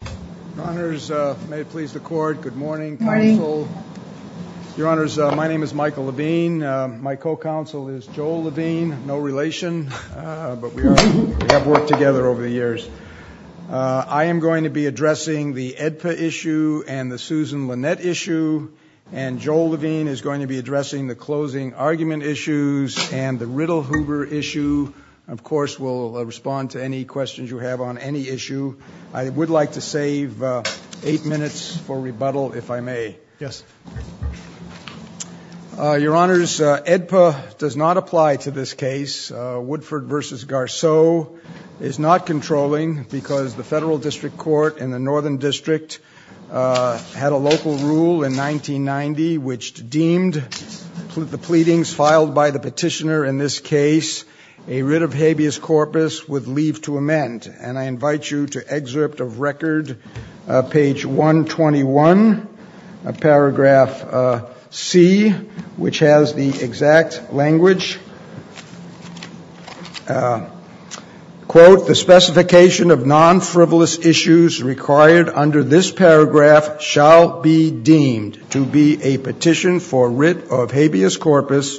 Michael Levine, Co-Counsel, Joel Levine & Susan Lynette Edpa does not apply to this case. Woodford v. Garceau is not controlling because the Federal District Court in the Northern District had a local rule in 1990 which deemed the pleadings filed by the petitioner in this case a writ of habeas corpus with leave to amend. And I invite you to excerpt of record, page 121, paragraph C, which has the exact language, quote, The specification of non-frivolous issues required under this paragraph shall be deemed to be a petition for writ of habeas corpus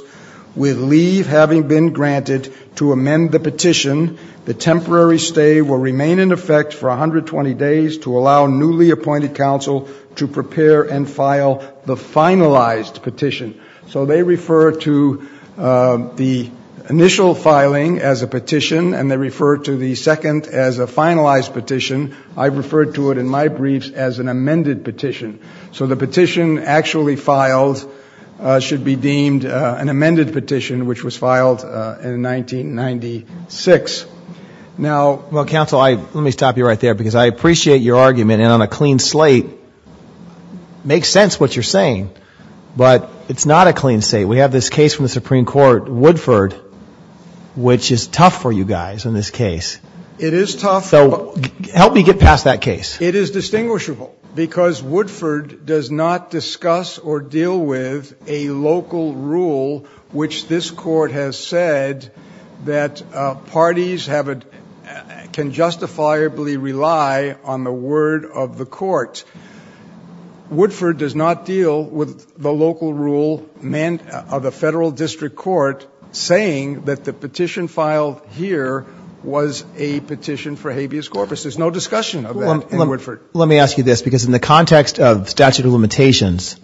with leave having been granted to amend the petition. The temporary stay will remain in effect for 120 days to allow newly appointed counsel to prepare and file the finalized petition. So they refer to the initial filing as a petition and they refer to the second as a finalized petition. I refer to it in my briefs as an amended petition. So the petition actually filed should be deemed an amended petition which was filed in 1996. Now, counsel, let me stop you right there because I appreciate your argument and on a clean slate, it makes sense what you're saying, but it's not a clean slate. We have this case from the Supreme Court, Woodford, which is tough for you guys in this case. It is tough. So help me get past that case. It is distinguishable because Woodford does not discuss or deal with a local rule, which this court has said that parties can justifiably rely on the word of the court. Woodford does not deal with the local rule of a federal district court saying that the petition filed here was a petition for habeas corpus. There's no discussion of that in Woodford. Let me ask you this because in the context of statute of limitations,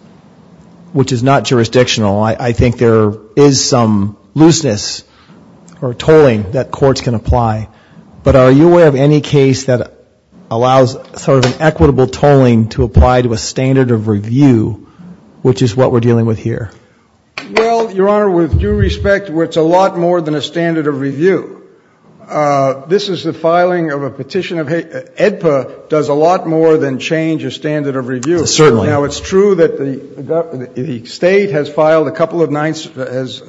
which is not jurisdictional, I think there is some looseness or tolling that courts can apply, but are you aware of any case that allows sort of an equitable tolling to apply to a standard of review, which is what we're dealing with here? Well, Your Honor, with due respect, it's a lot more than a standard of review. This is the filing of a petition. AEDPA does a lot more than change a standard of review. Certainly. Now, it's true that the state has filed a couple of nines, as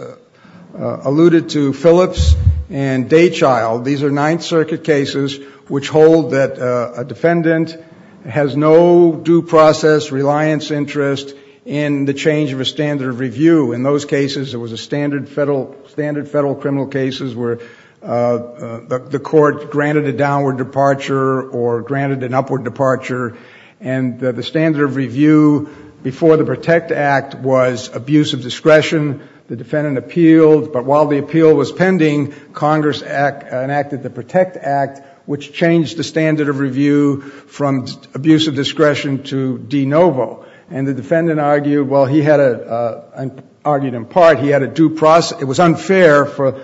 alluded to, Phillips and Daychild. These are Ninth Circuit cases which hold that a defendant has no due process reliance interest in the change of a standard of review. In those cases, it was a standard federal criminal cases where the court granted a downward departure or granted an upward departure, and the standard of review before the Protect Act was abuse of discretion. The defendant appealed, but while the appeal was pending, Congress enacted the Protect Act, which changed the standard of review from abuse of discretion to de novo. And the defendant argued, well, he had a, argued in part, he had a due process, it was unfair for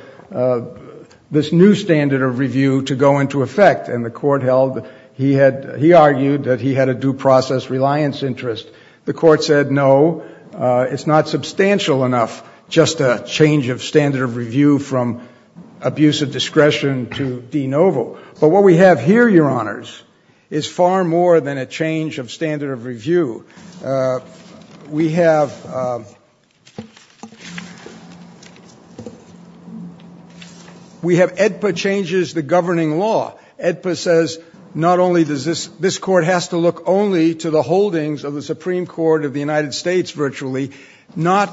this new standard of review to go into effect. And the court held, he had, he argued that he had a due process reliance interest. The court said, no, it's not substantial enough, just a change of standard of review from abuse of discretion to de novo. But what we have here, your honors, is far more than a change of standard of review. We have, we have AEDPA changes the governing law. AEDPA says not only does this, this court has to look only to the holdings of the Supreme Court of the United States virtually, not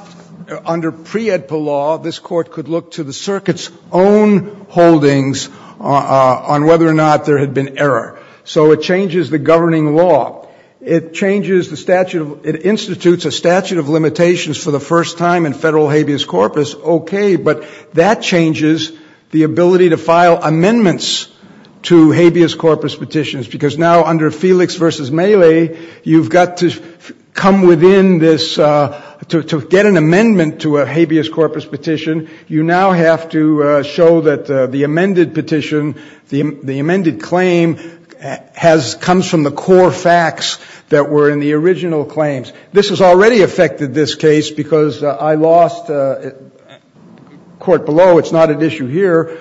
under pre-AEDPA law, this court could look to the circuit's own holdings on whether or not there had been error. So it changes the governing law. It changes the statute of, it institutes a statute of limitations for the first time in federal habeas corpus. Okay, but that changes the ability to file amendments to habeas corpus petitions. Because now under Felix v. Mele, you've got to come within this, to get an amendment to a habeas corpus petition, you now have to show that the amended petition, the amended claim has, comes from the core facts that were in the original claims. This has already affected this case because I lost, court below, it's not an issue here,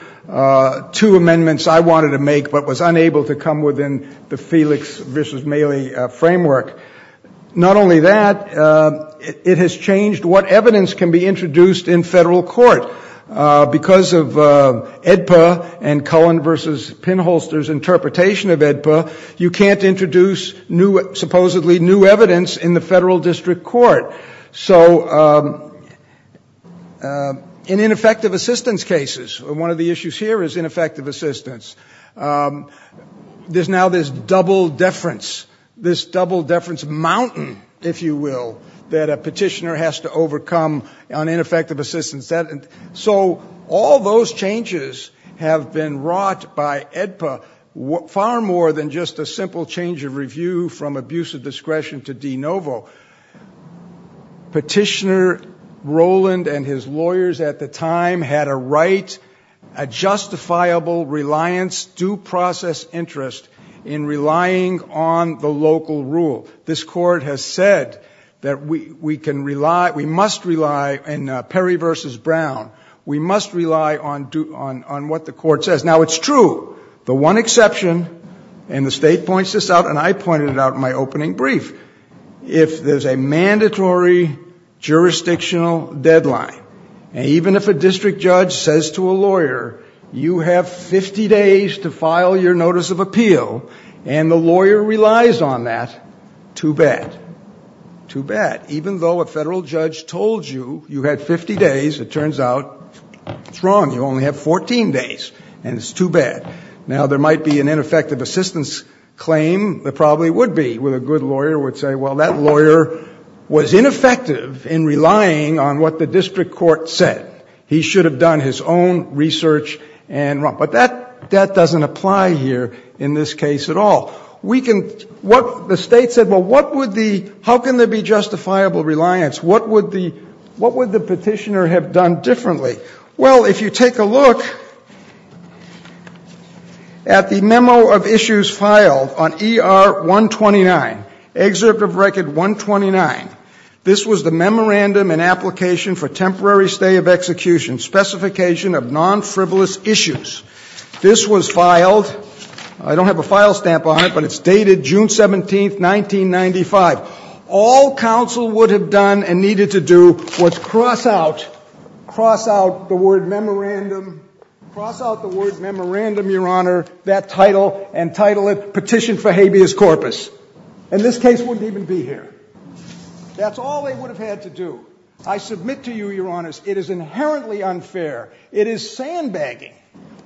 two amendments I wanted to make but was unable to come within the Felix v. Mele framework. Not only that, it has changed what evidence can be introduced in federal court. Because of AEDPA and Cullen v. Pinholster's interpretation of AEDPA, you can't introduce supposedly new evidence in the federal district court. So in ineffective assistance cases, one of the issues here is ineffective assistance. There's now this double deference, this double deference mountain, if you will, that a petitioner has to overcome on ineffective assistance. So all those changes have been wrought by AEDPA, far more than just a simple change of review from abuse of discretion to de novo. Petitioner Rowland and his lawyers at the time had a right, a justifiable reliance, due process interest in relying on the local rule. This court has said that we can rely, we must rely, in Perry v. Brown, we must rely on what the court says. Now it's true, the one exception, and the state points this out and I pointed it out in my opening brief, if there's a mandatory jurisdictional deadline, and even if a district judge says to a lawyer, you have 50 days to file your notice of appeal, and the lawyer relies on that, too bad. Too bad. Even though a federal judge told you you had 50 days, it turns out it's wrong, you only have 14 days, and it's too bad. Now there might be an ineffective assistance claim, there probably would be, where a good lawyer would say, well, that lawyer was ineffective in relying on what the district court said. He should have done his own research and wrong. But that doesn't apply here in this case at all. The state said, well, how can there be justifiable reliance? What would the petitioner have done differently? Well, if you take a look at the memo of issues filed on ER 129, Excerpt of Record 129, this was the Memorandum and Application for Temporary Stay of Execution, Specification of Non-Frivolous Issues. This was filed, I don't have a file stamp on it, but it's dated June 17, 1995. All counsel would have done and needed to do was cross out the word Memorandum, your honor, that title, and title it Petition for Habeas Corpus. And this case wouldn't even be here. That's all they would have had to do. I submit to you, your honor, it is inherently unfair. It is sandbagging.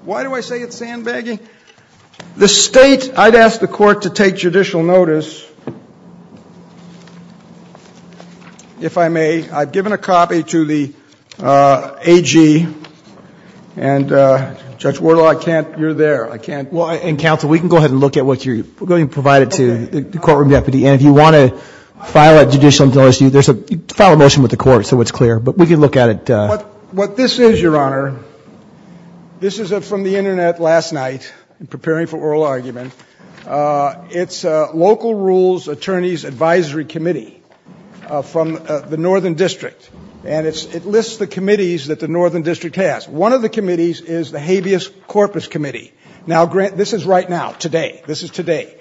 Why do I say it's sandbagging? The state, I'd ask the court to take judicial notice, if I may. I've given a copy to the AG, and Judge Wardle, I can't, you're there, I can't. Well, and counsel, we can go ahead and look at what you provided to the courtroom deputy. And if you want to file a judicial notice, you file a motion with the court so it's clear. But we can look at it. What this is, your honor, this is from the internet last night, preparing for oral argument. It's Local Rules Attorney's Advisory Committee from the Northern District. And it lists the committees that the Northern District has. One of the committees is the Habeas Corpus Committee. Now, Grant, this is right now, today. This is today.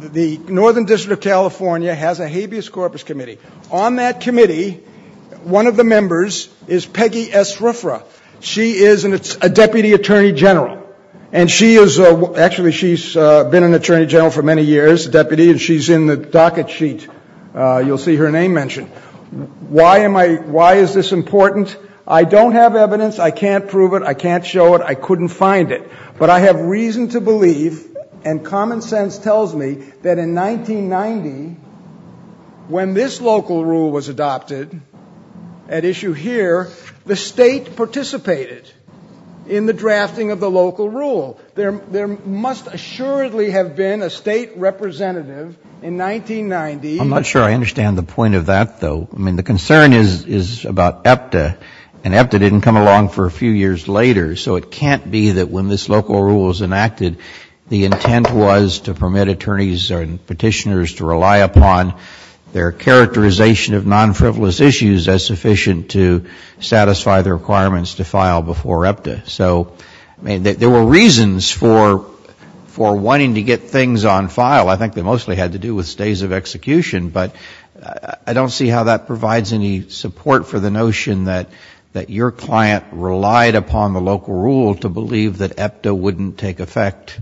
The Northern District of California has a Habeas Corpus Committee. On that committee, one of the members is Peggy S. Ruffra. She is a Deputy Attorney General. And she is, actually, she's been an Attorney General for many years, a deputy, and she's in the docket sheet. You'll see her name mentioned. Why am I, why is this important? I don't have evidence. I can't prove it. I can't show it. I couldn't find it. But I have reason to believe, and common sense tells me, that in 1990, when this local rule was adopted, at issue here, the state participated in the drafting of the local rule. There must assuredly have been a state representative in 1990. I'm not sure I understand the point of that, though. I mean, the concern is about EPTA. And EPTA didn't come along for a few years later. So it can't be that when this local rule was enacted, the intent was to permit attorneys and petitioners to rely upon their characterization of non-frivolous issues as sufficient to satisfy the requirements to file before EPTA. So, I mean, there were reasons for wanting to get things on file. I think they mostly had to do with stays of execution. But I don't see how that provides any support for the notion that your client relied upon the local rule to believe that EPTA wouldn't take effect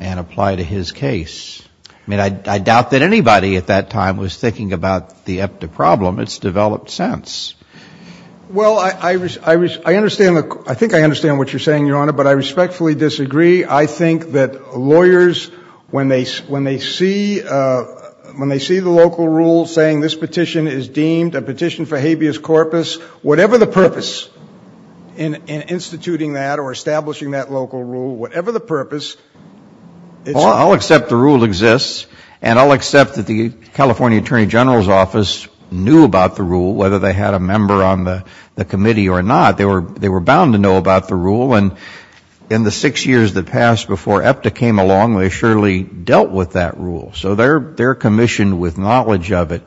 and apply to his case. I mean, I doubt that anybody at that time was thinking about the EPTA problem. It's developed since. Well, I think I understand what you're saying, Your Honor, but I respectfully disagree. I think that lawyers, when they see the local rule saying this petition is deemed a petition for habeas corpus, whatever the purpose in instituting that or establishing that local rule, whatever the purpose... Well, I'll accept the rule exists, and I'll accept that the California Attorney General's office knew about the rule, whether they had a member on the committee or not. They were bound to know about the rule, and in the six years that passed before EPTA came along, they surely dealt with that rule. So they're commissioned with knowledge of it.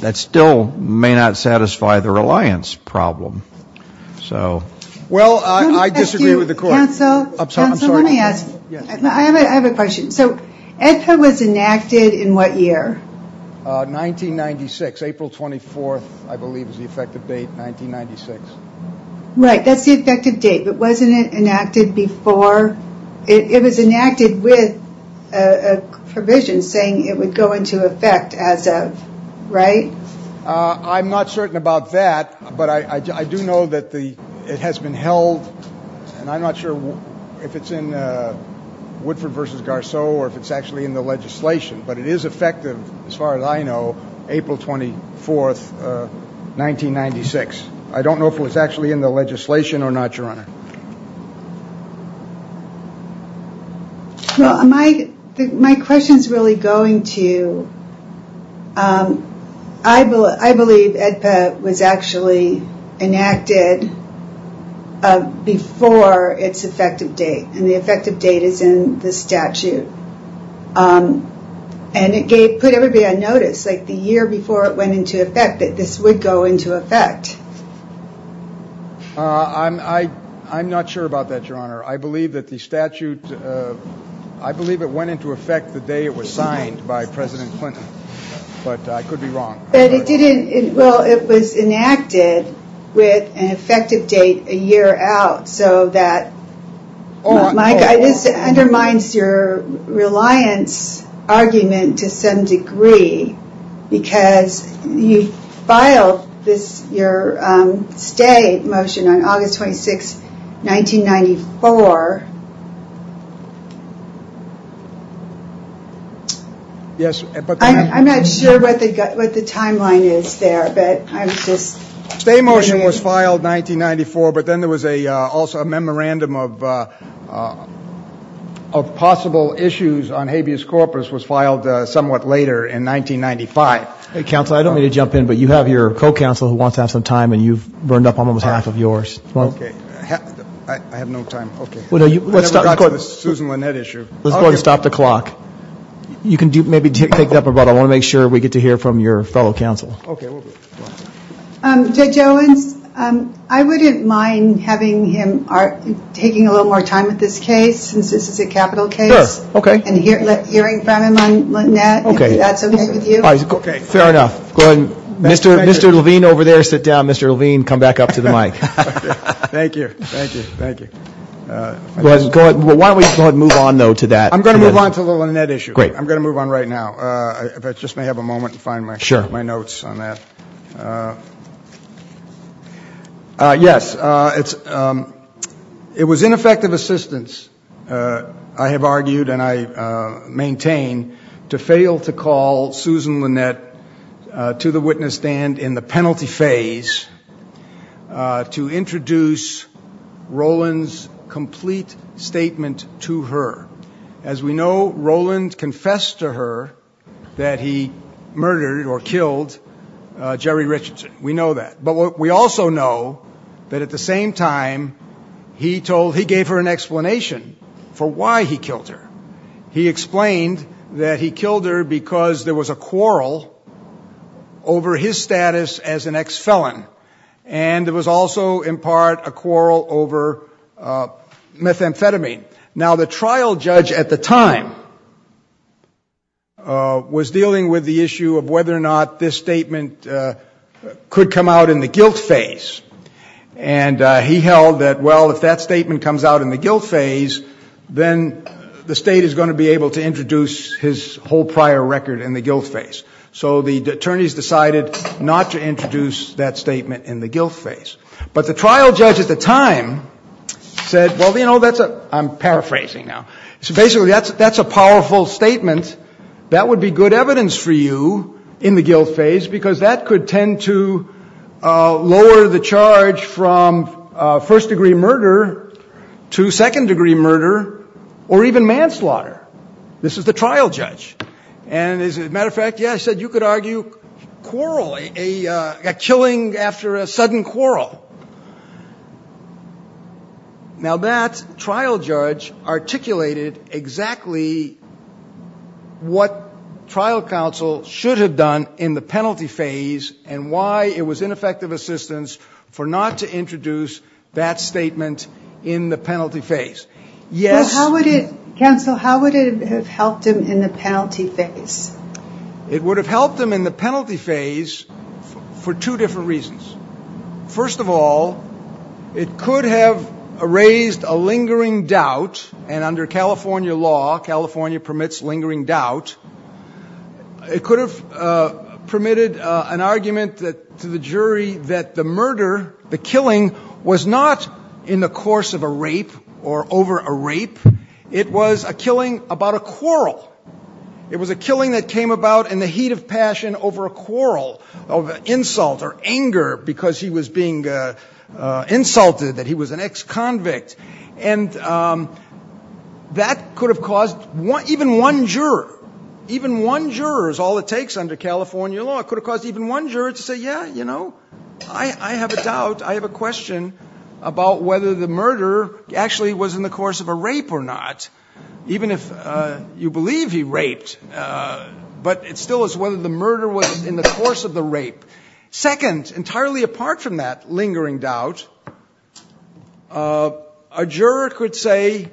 That still may not satisfy their reliance problem. Well, I disagree with the court. Counsel, I have a question. So EPTA was enacted in what year? 1996, April 24th, I believe is the effective date, 1996. Right, that's the effective date, but wasn't it enacted before? It was enacted with a provision saying it would go into effect as of, right? I'm not certain about that, but I do know that it has been held, and I'm not sure if it's in Woodford v. Garceau or if it's actually in the legislation, but it is effective, as far as I know, April 24th, 1996. I don't know if it was actually in the legislation or not, Your Honor. Well, my question is really going to you. I believe EPTA was actually enacted before its effective date, and the effective date is in the statute. And it put everybody on notice, like the year before it went into effect, that this would go into effect. I'm not sure about that, Your Honor. I believe that the statute, I believe it went into effect the day it was signed by President Clinton, but I could be wrong. Well, it was enacted with an effective date a year out, so that undermines your reliance argument to some degree, because you filed your stay motion on August 26th, 1994. I'm not sure what the timeline is there. Stay motion was filed 1994, but then there was also a memorandum of possible issues on habeas corpus was filed somewhat later in 1995. Counselor, I don't mean to jump in, but you have your co-counselor who wants to ask for time, and you've run up on almost half of yours. Okay. I have no time. Okay. Let's stop the clock. You can maybe pick it up, but I want to make sure we get to hear from your fellow counsel. Okay. So, Joe, I wouldn't mind having him taking a little more time with this case, since this is a capital case. Sure. Okay. And hearing from him and Lynette, if that's okay with you. Okay. Fair enough. Go ahead. Mr. Levine over there, sit down. Mr. Levine, come back up to the mic. Thank you. Thank you. Thank you. Go ahead. Why don't we go ahead and move on, though, to that. I'm going to move on to the Lynette issue. Great. I'm going to move on right now, if I just may have a moment to find my notes on that. Yes. It was ineffective assistance, I have argued and I maintain, to fail to call Susan Lynette to the witness stand in the penalty phase to introduce Roland's complete statement to her. As we know, Roland confessed to her that he murdered or killed Jerry Richardson. We know that. But we also know that at the same time, he gave her an explanation for why he killed her. He explained that he killed her because there was a quarrel over his status as an ex-felon. And there was also, in part, a quarrel over methamphetamine. Now, the trial judge at the time was dealing with the issue of whether or not this statement could come out in the guilt phase. And he held that, well, if that statement comes out in the guilt phase, then the state is going to be able to introduce his whole prior record in the guilt phase. So the attorneys decided not to introduce that statement in the guilt phase. But the trial judge at the time said, well, you know, I'm paraphrasing now. So basically, that's a powerful statement. That would be good evidence for you in the guilt phase because that could tend to lower the charge from first-degree murder to second-degree murder or even manslaughter. This is the trial judge. As a matter of fact, yeah, I said you could argue quarrel, a killing after a sudden quarrel. Now, that trial judge articulated exactly what trial counsel should have done in the penalty phase and why it was ineffective assistance for not to introduce that statement in the penalty phase. Counsel, how would it have helped him in the penalty phase? It would have helped him in the penalty phase for two different reasons. First of all, it could have raised a lingering doubt, and under California law, California permits lingering doubt. It could have permitted an argument to the jury that the murder, the killing, was not in the course of a rape or over a rape. It was a killing about a quarrel. It was a killing that came about in the heat of passion over a quarrel, over insult or anger because he was being insulted, that he was an ex-convict. And that could have caused even one juror, even one juror is all it takes under California law. It could have caused even one juror to say, yeah, you know, I have a doubt. I have a question about whether the murder actually was in the course of a rape or not, even if you believe he raped. But it still is whether the murder was in the course of the rape. Second, entirely apart from that lingering doubt, a juror could say,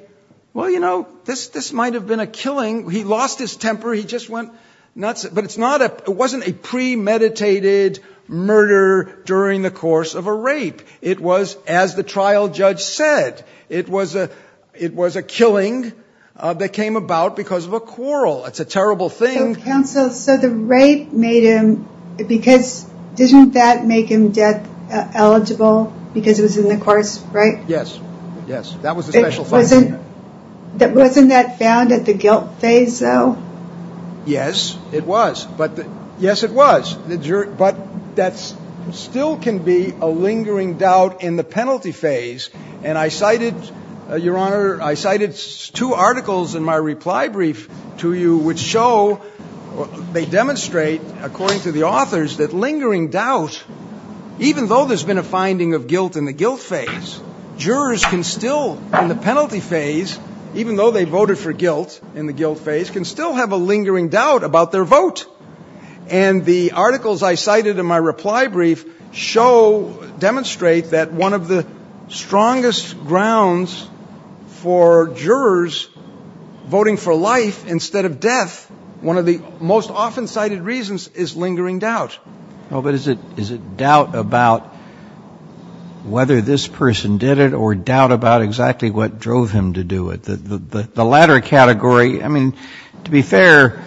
well, you know, this might have been a killing. He lost his temper. He just went nuts. But it wasn't a premeditated murder during the course of a rape. It was, as the trial judge said, it was a killing that came about because of a quarrel. That's a terrible thing. So the rape made him, because, didn't that make him death eligible because it was in the course, right? Yes, yes. That was the special punishment. Wasn't that found at the guilt phase, though? Yes, it was. Yes, it was. But that still can be a lingering doubt in the penalty phase. And I cited, Your Honor, I cited two articles in my reply brief to you which show, they demonstrate, according to the authors, that lingering doubt, even though there's been a finding of guilt in the guilt phase, jurors can still, in the penalty phase, even though they voted for guilt in the guilt phase, can still have a lingering doubt about their vote. And the articles I cited in my reply brief show, demonstrate, that one of the strongest grounds for jurors voting for life instead of death, one of the most often cited reasons, is lingering doubt. But is it doubt about whether this person did it or doubt about exactly what drove him to do it? The latter category, I mean, to be fair,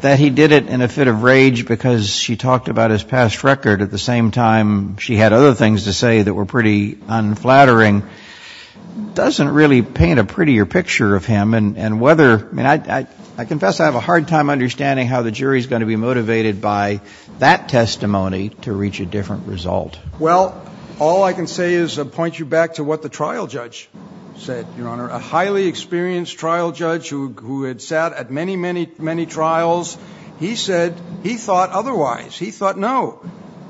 that he did it in a fit of rage because she talked about his past record at the same time she had other things to say that were pretty unflattering, doesn't really paint a prettier picture of him. And whether, I mean, I confess I have a hard time understanding how the jury's going to be motivated by that testimony to reach a different result. Well, all I can say is point you back to what the trial judge said, Your Honor. A highly experienced trial judge who had sat at many, many, many trials, he said he thought otherwise. He thought, no,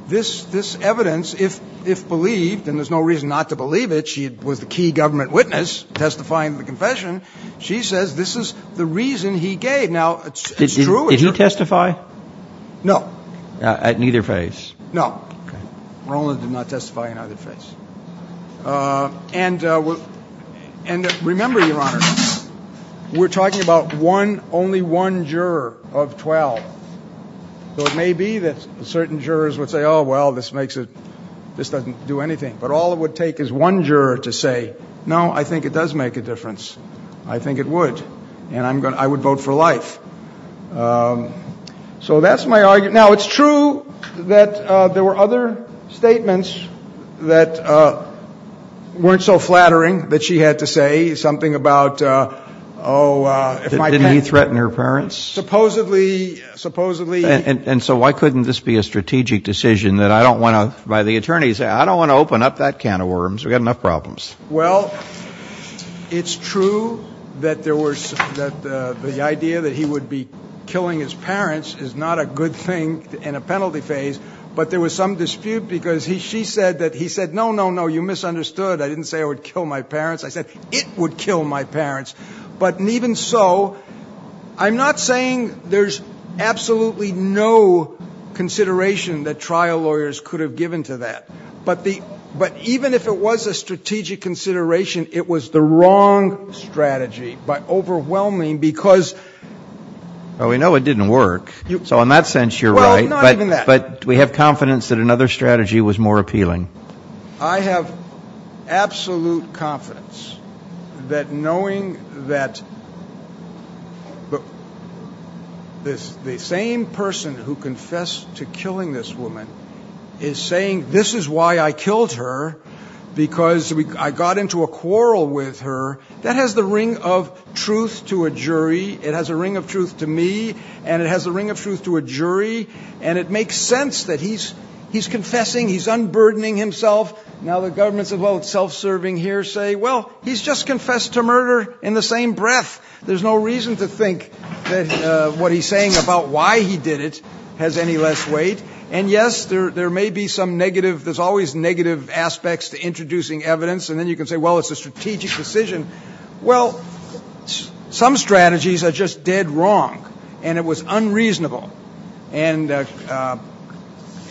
this evidence, if believed, and there's no reason not to believe it, she was a key government witness testifying the confession, she says this is the reason he gave. Now, it's true. Did he testify? No. At neither phase? No. Okay. Roland did not testify in either phase. And remember, Your Honor, we're talking about only one juror of 12. So it may be that certain jurors would say, oh, well, this doesn't do anything. But all it would take is one juror to say, no, I think it does make a difference. I think it would. And I would vote for life. So that's my argument. Now, it's true that there were other statements that weren't so flattering that she had to say something about, oh, if I can't. Didn't he threaten her parents? Supposedly, supposedly. And so why couldn't this be a strategic decision that I don't want to, by the attorney, say I don't want to open up that can of worms. We've got enough problems. Well, it's true that the idea that he would be killing his parents is not a good thing in a penalty phase. But there was some dispute because she said that he said, no, no, no, you misunderstood. I didn't say I would kill my parents. I said it would kill my parents. But even so, I'm not saying there's absolutely no consideration that trial lawyers could have given to that. But even if it was a strategic consideration, it was the wrong strategy. But overwhelming because. Well, we know it didn't work. So in that sense, you're right. But we have confidence that another strategy was more appealing. I have absolute confidence that knowing that the same person who confessed to killing this woman is saying this is why I killed her because I got into a quarrel with her. That has the ring of truth to a jury. It has a ring of truth to me. And it has a ring of truth to a jury. And it makes sense that he's he's confessing. He's unburdening himself. Now, the governments of self-serving here say, well, he's just confessed to murder in the same breath. There's no reason to think that what he's saying about why he did it has any less weight. And, yes, there may be some negative. There's always negative aspects to introducing evidence. And then you can say, well, it's a strategic decision. Well, some strategies are just dead wrong. And it was unreasonable and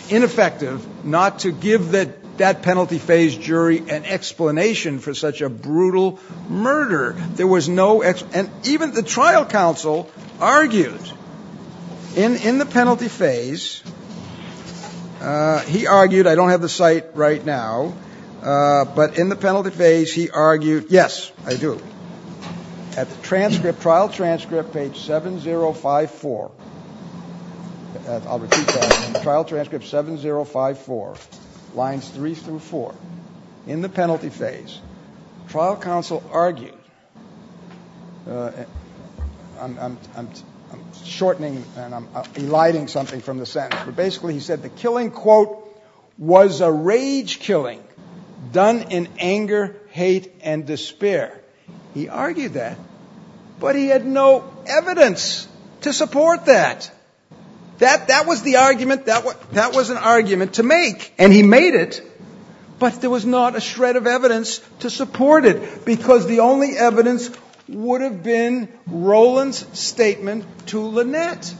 ineffective. Not to give that that penalty phase jury an explanation for such a brutal murder. There was no X. And even the trial counsel argued in the penalty phase. He argued I don't have the site right now. But in the penalty phase, he argued. Yes, I do. At the transcript, trial transcript page seven zero five four. I'll repeat that trial transcript seven zero five four lines three through four in the penalty phase. Trial counsel argued. I'm shortening and I'm lighting something from the set. Basically, he said the killing, quote, was a rage killing done in anger, hate and despair. He argued that. But he had no evidence to support that. That was the argument. That was an argument to make. And he made it. But there was not a shred of evidence to support it. Because the only evidence would have been Roland's statement to Lynette.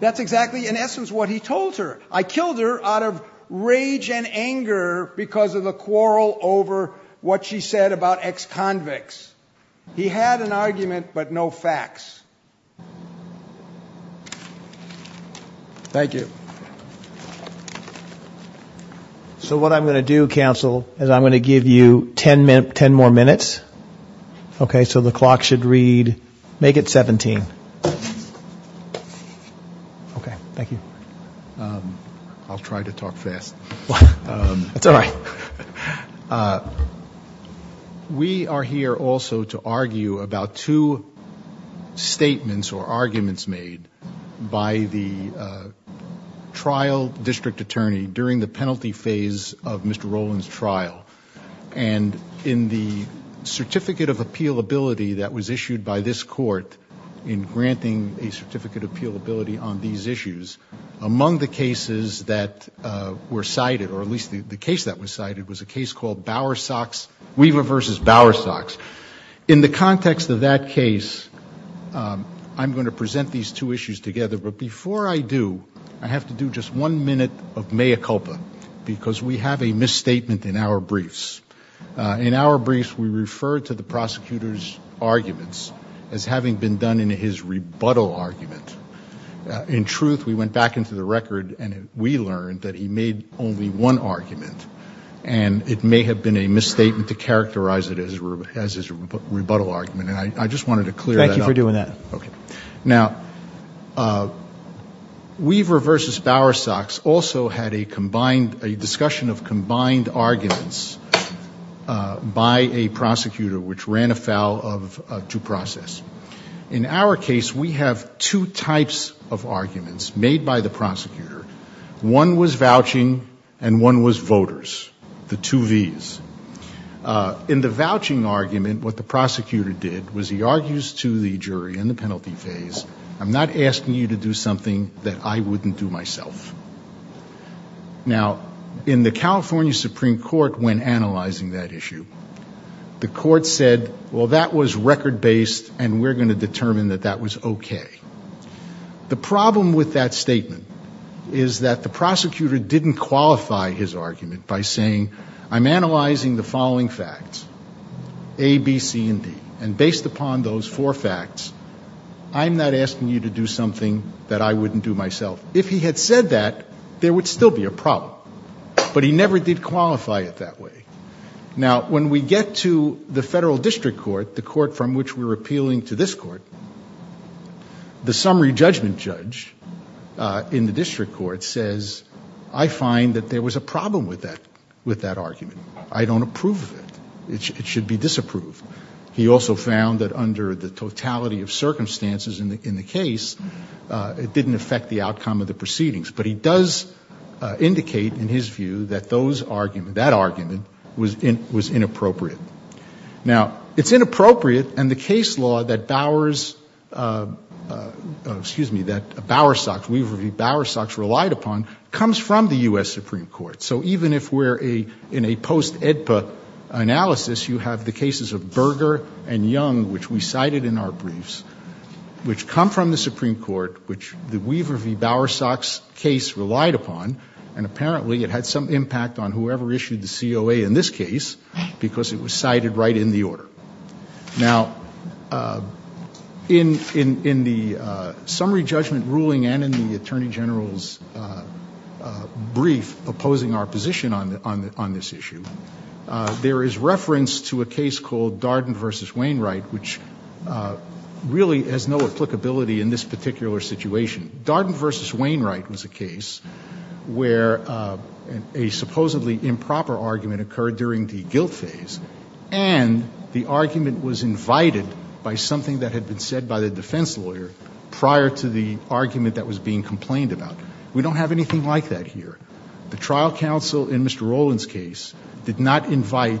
That's exactly, in essence, what he told her. I killed her out of rage and anger because of the quarrel over what she said about ex-convicts. He had an argument, but no facts. Thank you. So what I'm going to do, counsel, is I'm going to give you ten more minutes. Okay, so the clock should read, make it 17. Thank you. I'll try to talk fast. We are here also to argue about two statements or arguments made by the trial district attorney during the penalty phase of Mr. Roland's trial. And in the certificate of appealability that was issued by this court in granting a certificate of appealability on these issues, among the cases that were cited, or at least the case that was cited, was a case called Weaver v. Bowersox. In the context of that case, I'm going to present these two issues together. But before I do, I have to do just one minute of mea culpa because we have a misstatement in our briefs. In our briefs, we refer to the prosecutor's arguments as having been done in his rebuttal argument. In truth, we went back into the record and we learned that he made only one argument, and it may have been a misstatement to characterize it as his rebuttal argument. And I just wanted to clear that up. Thank you for doing that. Now, Weaver v. Bowersox also had a discussion of combined arguments by a prosecutor which ran afoul of due process. In our case, we have two types of arguments made by the prosecutor. One was vouching and one was voters, the two Vs. In the vouching argument, what the prosecutor did was he argues to the jury in the penalty phase, I'm not asking you to do something that I wouldn't do myself. Now, in the California Supreme Court, when analyzing that issue, the court said, well, that was record-based and we're going to determine that that was okay. The problem with that statement is that the prosecutor didn't qualify his argument by saying, I'm analyzing the following facts, A, B, C, and D, and based upon those four facts, I'm not asking you to do something that I wouldn't do myself. If he had said that, there would still be a problem, but he never did qualify it that way. Now, when we get to the federal district court, the court from which we're appealing to this court, the summary judgment judge in the district court says, I find that there was a problem with that argument. I don't approve of it. It should be disapproved. He also found that under the totality of circumstances in the case, it didn't affect the outcome of the proceedings, but he does indicate, in his view, that that argument was inappropriate. Now, it's inappropriate, and the case law that Bowers, excuse me, that Bowers-Sox, Weaver v. Bowers-Sox relied upon, comes from the U.S. Supreme Court. So even if we're in a post-EDPA analysis, you have the cases of Berger and Young, which we cited in our briefs, which come from the Supreme Court, which the Weaver v. Bowers-Sox case relied upon, and apparently it had some impact on whoever issued the COA in this case because it was cited right in the order. Now, in the summary judgment ruling and in the Attorney General's brief opposing our position on this issue, there is reference to a case called Darden v. Wainwright, which really has no applicability in this particular situation. Darden v. Wainwright was a case where a supposedly improper argument occurred during the guilt phase, and the argument was invited by something that had been said by the defense lawyer prior to the argument that was being complained about. We don't have anything like that here. The trial counsel in Mr. Rowland's case did not invite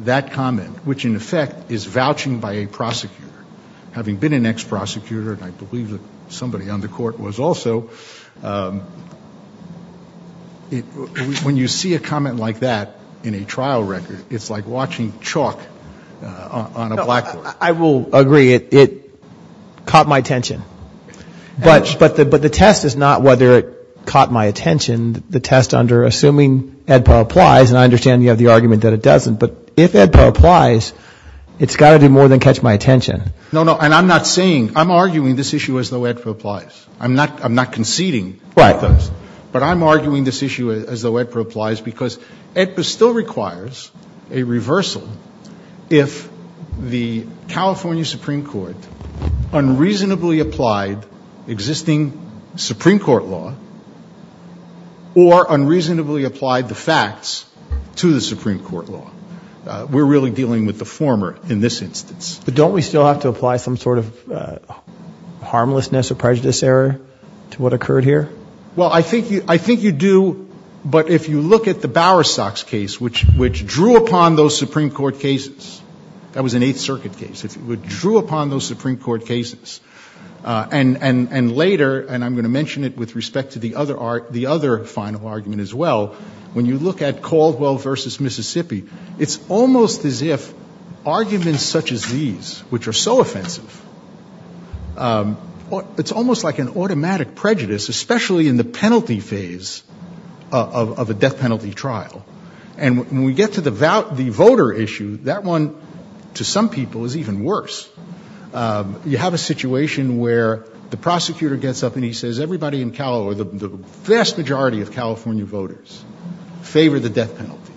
that comment, which, in effect, is vouching by a prosecutor. Having been an ex-prosecutor, and I believe somebody on the Court was also, when you see a comment like that in a trial record, it's like watching chalk on a blackboard. I will agree. It caught my attention. But the test is not whether it caught my attention. The test under assuming AEDPA applies, and I understand you have the argument that it doesn't, but if AEDPA applies, it's got to be more than catch my attention. No, no, and I'm not saying, I'm arguing this issue as though AEDPA applies. I'm not conceding. Right. But I'm arguing this issue as though AEDPA applies because AEDPA still requires a reversal if the California Supreme Court unreasonably applied existing Supreme Court law or unreasonably applied the facts to the Supreme Court law. We're really dealing with the former in this instance. But don't we still have to apply some sort of harmlessness or prejudice error to what occurred here? Well, I think you do, but if you look at the Bowerstocks case, which drew upon those Supreme Court cases, that was an Eighth Circuit case. It drew upon those Supreme Court cases. And later, and I'm going to mention it with respect to the other final argument as well, when you look at Caldwell v. Mississippi, it's almost as if arguments such as these, which are so offensive, it's almost like an automatic prejudice, especially in the penalty phase of a death penalty trial. And when we get to the voter issue, that one, to some people, is even worse. You have a situation where the prosecutor gets up and he says, the vast majority of California voters favor the death penalty.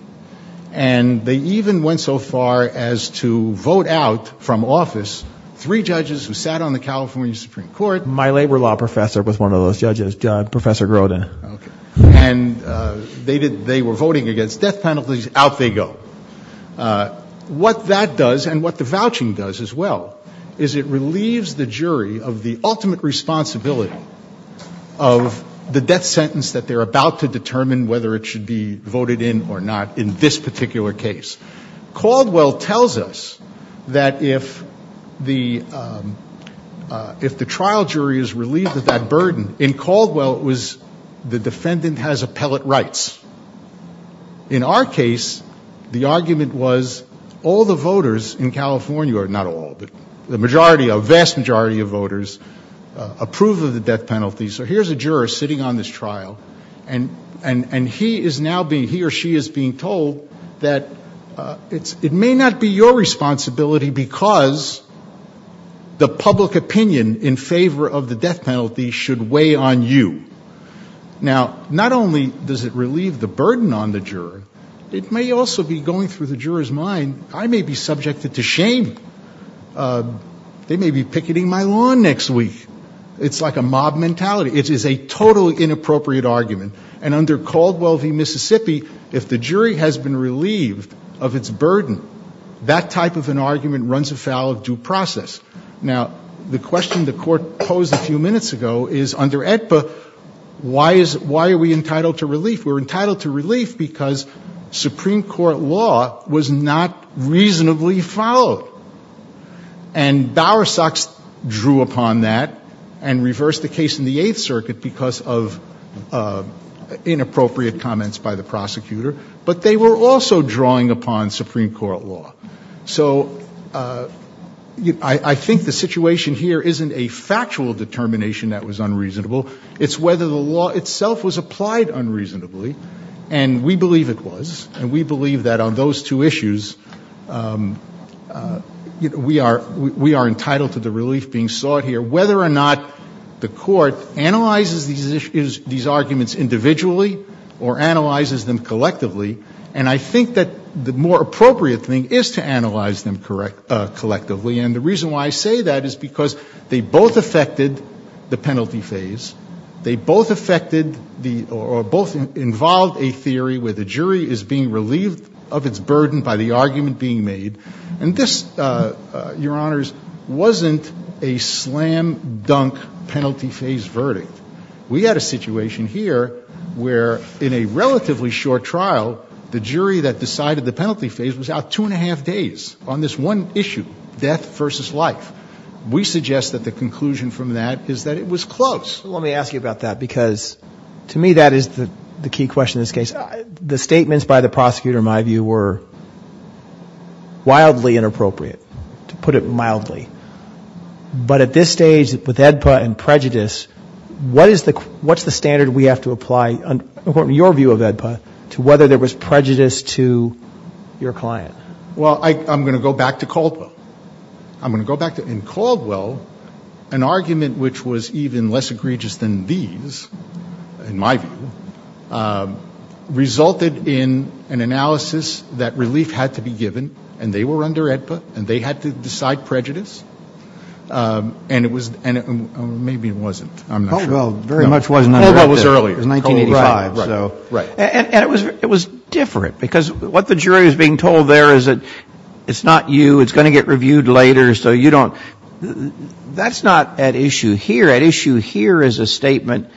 And they even went so far as to vote out from office three judges who sat on the California Supreme Court. My labor law professor was one of those judges, Professor Grota. And they were voting against death penalties. Out they go. What that does, and what the vouching does as well, is it relieves the jury of the ultimate responsibility of the death sentence that they're about to determine whether it should be voted in or not in this particular case. Caldwell tells us that if the trial jury is relieved of that burden, in Caldwell it was the defendant has appellate rights. In our case, the argument was all the voters in California, or not all, the majority, a vast majority of voters, approve of the death penalty. So here's a juror sitting on this trial, and he is now being, he or she is being told that it may not be your responsibility because the public opinion in favor of the death penalty should weigh on you. Now, not only does it relieve the burden on the juror, it may also be going through the juror's mind, I may be subjected to shame. They may be picketing my lawn next week. It's like a mob mentality. It is a totally inappropriate argument. And under Caldwell v. Mississippi, if the jury has been relieved of its burden, that type of an argument runs afoul of due process. Now, the question the court posed a few minutes ago is, under AEDPA, why are we entitled to relief? We're entitled to relief because Supreme Court law was not reasonably followed. And Bowersox drew upon that and reversed the case in the Eighth Circuit because of inappropriate comments by the prosecutor, but they were also drawing upon Supreme Court law. So I think the situation here isn't a factual determination that was unreasonable. It's whether the law itself was applied unreasonably, and we believe it was. And we believe that on those two issues, we are entitled to the relief being sought here, whether or not the court analyzes these arguments individually or analyzes them collectively. And I think that the more appropriate thing is to analyze them collectively. And the reason why I say that is because they both affected the penalty phase. They both affected or both involved a theory where the jury is being relieved of its burden by the argument being made. And this, Your Honors, wasn't a slam-dunk penalty phase verdict. We had a situation here where, in a relatively short trial, the jury that decided the penalty phase was out two and a half days on this one issue, death versus life. We suggest that the conclusion from that is that it was close. Let me ask you about that because, to me, that is the key question in this case. The statements by the prosecutor, in my view, were wildly inappropriate, to put it mildly. But at this stage, with AEDPA and prejudice, what is the standard we have to apply, according to your view of AEDPA, to whether there was prejudice to your client? Well, I'm going to go back to Caldwell. In Caldwell, an argument which was even less egregious than these, in my view, resulted in an analysis that relief had to be given, and they were under AEDPA, and they had to decide prejudice. And it was, or maybe it wasn't, I'm not sure. Caldwell very much wasn't under AEDPA. Caldwell was earlier, in 1985. And it was different because what the jury is being told there is that it's not you, it's going to get reviewed later, so you don't. That's not at issue here. At issue here is a statement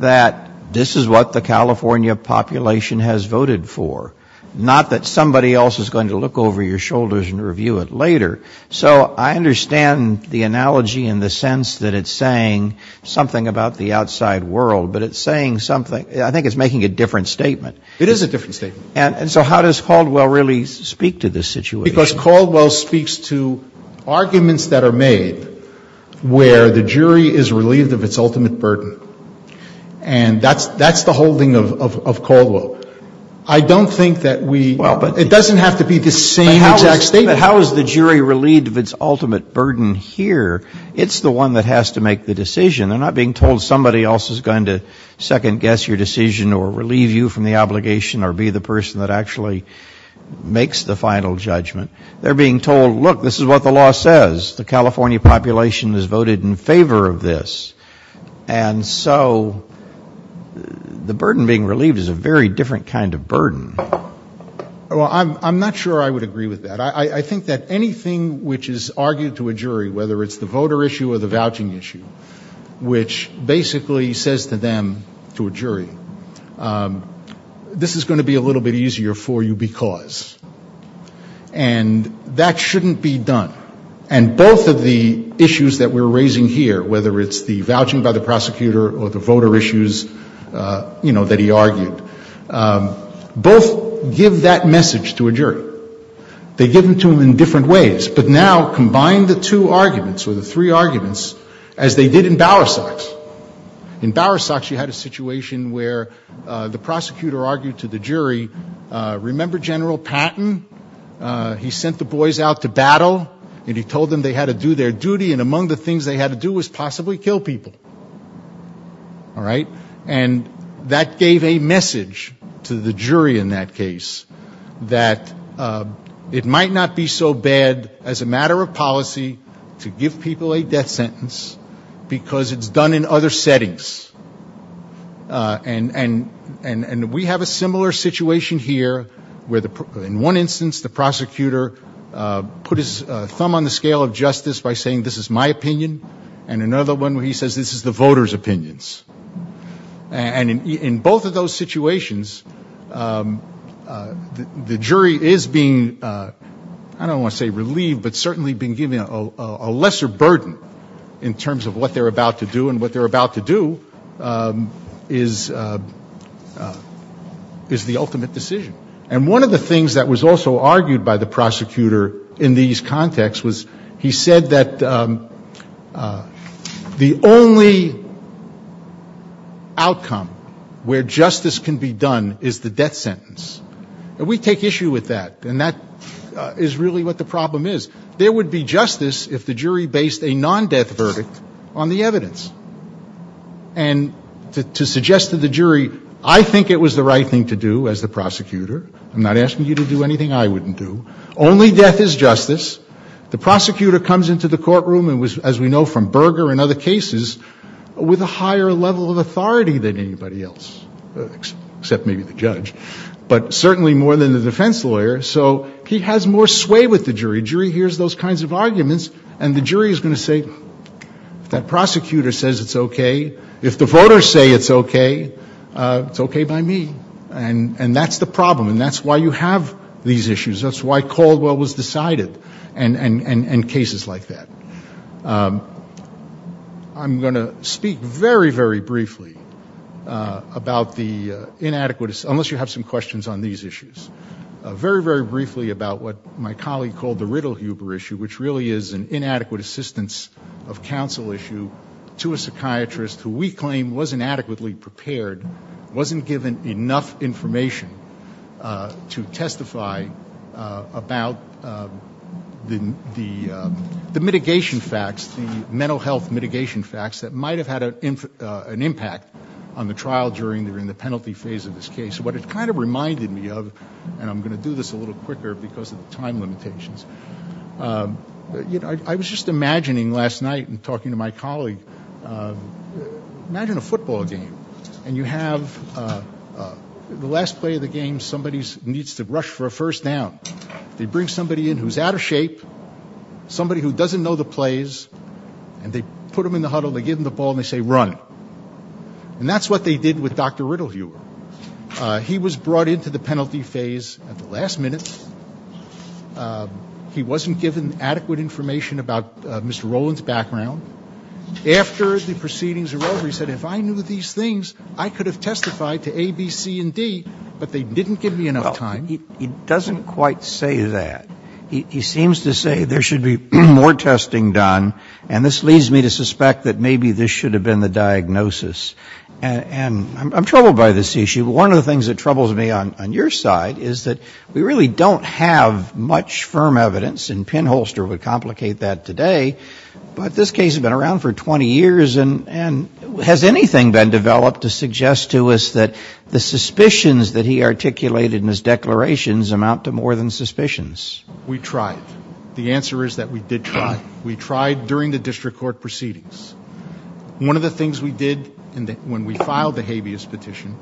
that this is what the California population has voted for, not that somebody else is going to look over your shoulders and review it later. So I understand the analogy in the sense that it's saying something about the outside world, but it's saying something, I think it's making a different statement. It is a different statement. And so how does Caldwell really speak to this situation? Because Caldwell speaks to arguments that are made where the jury is relieved of its ultimate burden. And that's the holding of Caldwell. I don't think that we, it doesn't have to be the same exact statement. But how is the jury relieved of its ultimate burden here? It's the one that has to make the decision. They're not being told somebody else is going to second-guess your decision or relieve you from the obligation or be the person that actually makes the final judgment. They're being told, look, this is what the law says. The California population has voted in favor of this. And so the burden being relieved is a very different kind of burden. Well, I'm not sure I would agree with that. I think that anything which is argued to a jury, whether it's the voter issue or the vouching issue, which basically says to them, to a jury, this is going to be a little bit easier for you because. And that shouldn't be done. And both of the issues that we're raising here, whether it's the vouching by the prosecutor or the voter issues, you know, that he argued, both give that message to a jury. They give them to him in different ways. But now combine the two arguments or the three arguments as they did in Bowersox. In Bowersox, you had a situation where the prosecutor argued to the jury, remember General Patton? He sent the boys out to battle and he told them they had to do their duty, and among the things they had to do was possibly kill people. All right? And that gave a message to the jury in that case that it might not be so bad as a matter of policy to give people a death sentence because it's done in other settings. And we have a similar situation here where in one instance the prosecutor put his thumb on the scale of justice by saying, this is the voters' opinions. And in both of those situations, the jury is being, I don't want to say relieved, but certainly been given a lesser burden in terms of what they're about to do, and what they're about to do is the ultimate decision. And one of the things that was also argued by the prosecutor in these contexts was he said that the only outcome where justice can be done is the death sentence. And we take issue with that, and that is really what the problem is. There would be justice if the jury based a non-death verdict on the evidence. And to suggest to the jury, I think it was the right thing to do as the prosecutor. I'm not asking you to do anything I wouldn't do. Only death is justice. The prosecutor comes into the courtroom, as we know from Berger and other cases, with a higher level of authority than anybody else, except maybe the judge, but certainly more than the defense lawyer, so he has more sway with the jury. The jury hears those kinds of arguments, and the jury is going to say, if that prosecutor says it's okay, if the voters say it's okay, it's okay by me. And that's the problem, and that's why you have these issues. That's why Caldwell was decided, and cases like that. I'm going to speak very, very briefly about the inadequate assistance, unless you have some questions on these issues, very, very briefly about what my colleague called the Riddle-Huber issue, which really is an inadequate assistance of counsel issue to a psychiatrist who we claim wasn't adequately prepared, wasn't given enough information to testify about the mitigation facts, the mental health mitigation facts that might have had an impact on the trial during the penalty phase of this case. What it kind of reminded me of, and I'm going to do this a little quicker because of the time limitations, I was just imagining last night and talking to my colleague, imagine a football game, and you have the last play of the game, somebody needs to rush for a first down. They bring somebody in who's out of shape, somebody who doesn't know the plays, and they put them in the huddle, they give them the ball, and they say run. And that's what they did with Dr. Riddle-Huber. He was brought into the penalty phase at the last minute. He wasn't given adequate information about Mr. Rowland's background. After the proceedings were over, he said, if I knew these things I could have testified to A, B, C, and D, but they didn't give me enough time. He doesn't quite say that. He seems to say there should be more testing done, and this leads me to suspect that maybe this should have been the diagnosis. And I'm troubled by this issue. One of the things that troubles me on your side is that we really don't have much firm evidence, and Penholster would complicate that today, but this case has been around for 20 years, and has anything been developed to suggest to us that the suspicions that he articulated in his declarations amount to more than suspicions? We tried. The answer is that we did try. We tried during the district court proceedings. One of the things we did when we filed the habeas petition,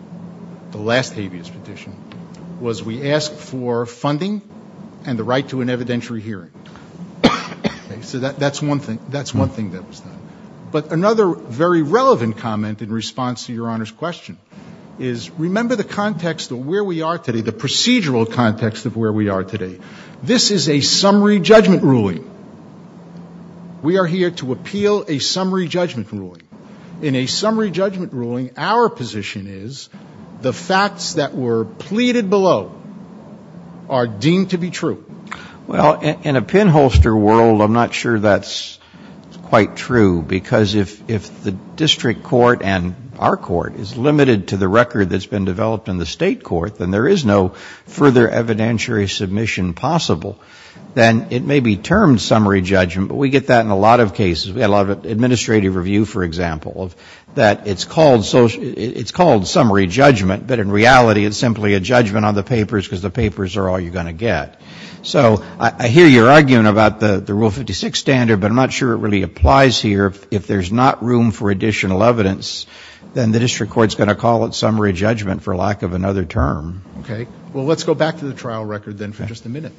the last habeas petition, was we asked for funding and the right to an evidentiary hearing. So that's one thing that was done. But another very relevant comment in response to your Honor's question is remember the context of where we are today, the procedural context of where we are today. This is a summary judgment ruling. We are here to appeal a summary judgment ruling. In a summary judgment ruling, our position is the facts that were pleaded below are deemed to be true. Well, in a Penholster world, I'm not sure that's quite true, because if the district court and our court is limited to the record that's been developed in the state court, then there is no further evidentiary submission possible. Then it may be termed summary judgment, but we get that in a lot of cases. We have a lot of administrative review, for example, that it's called summary judgment, but in reality it's simply a judgment on the papers because the papers are all you're going to get. So I hear your argument about the Rule 56 standard, but I'm not sure it really applies here. If there's not room for additional evidence, then the district court's going to call it summary judgment for lack of another term. Okay. Well, let's go back to the trial record then for just a minute.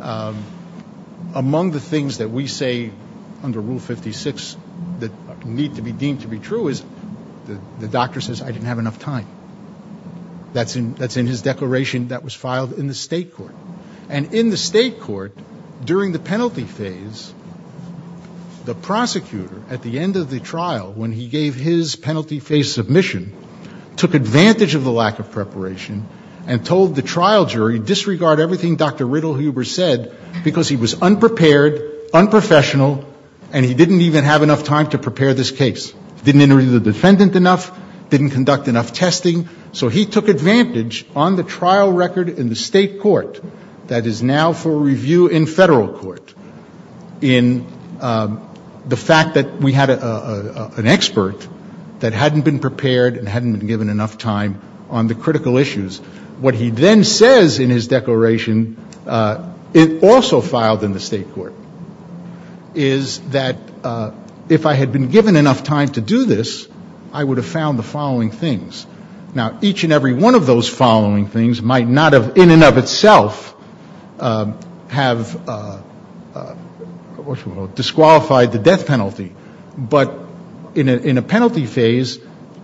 Among the things that we say under Rule 56 that need to be deemed to be true is the doctor says, I didn't have enough time. That's in his declaration that was filed in the state court. And in the state court, during the penalty phase, the prosecutor at the end of the trial when he gave his penalty phase submission, took advantage of the lack of preparation and told the trial jury, disregard everything Dr. Riddle Huber said because he was unprepared, unprofessional, and he didn't even have enough time to prepare this case. Didn't interview the defendant enough, didn't conduct enough testing. So he took advantage on the trial record in the state court that is now for review in federal court in the fact that we had an expert that hadn't been prepared and hadn't been given enough time on the critical issues. What he then says in his declaration, it also filed in the state court, is that if I had been given enough time to do this, I would have found the following things. Now, each and every one of those following things might not in and of itself have disqualified the death penalty. But in a penalty phase,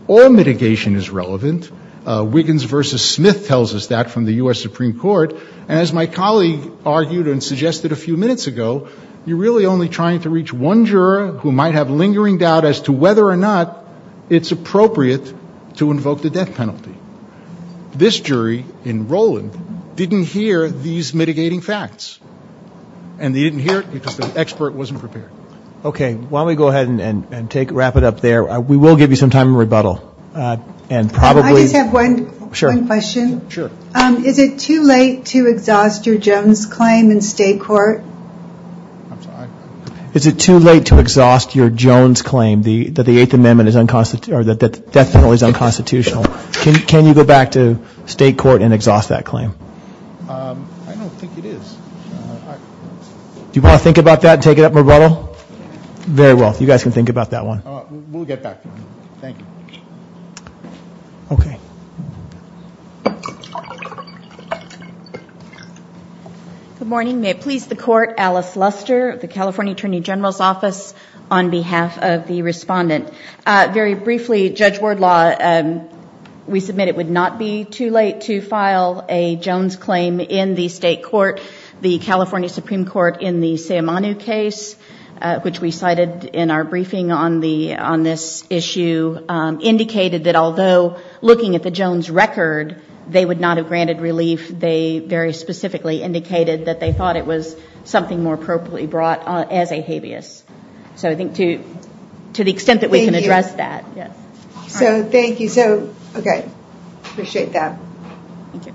all mitigation is relevant. Wiggins v. Smith tells us that from the U.S. Supreme Court. And as my colleague argued and suggested a few minutes ago, you're really only trying to reach one juror who might have lingering doubt as to whether or not it's appropriate to invoke the death penalty. This jury in Rowland didn't hear these mitigating facts. And they didn't hear it because the expert wasn't prepared. Okay, why don't we go ahead and wrap it up there. We will give you some time to rebuttal. I just have one question. Sure. Is it too late to exhaust your Jones claim in state court? I'm sorry? Is it too late to exhaust your Jones claim that the death penalty is unconstitutional? Can you go back to state court and exhaust that claim? I don't think it is. Do you want to think about that and take it up in rebuttal? Very well. You guys can think about that one. We'll get back to you. Thank you. Okay. Good morning. May it please the court. Alice Luster of the California Attorney General's Office on behalf of the respondent. Very briefly, Judge Wardlaw, we submit it would not be too late to file a Jones claim in the state court. The California Supreme Court in the Sayamanu case, which we cited in our briefing on this issue, indicated that although looking at the Jones record, they would not have granted relief. They very specifically indicated that they thought it was something more appropriately brought as a habeas. So I think to the extent that we can address that. So thank you. Okay. Appreciate that. Thank you.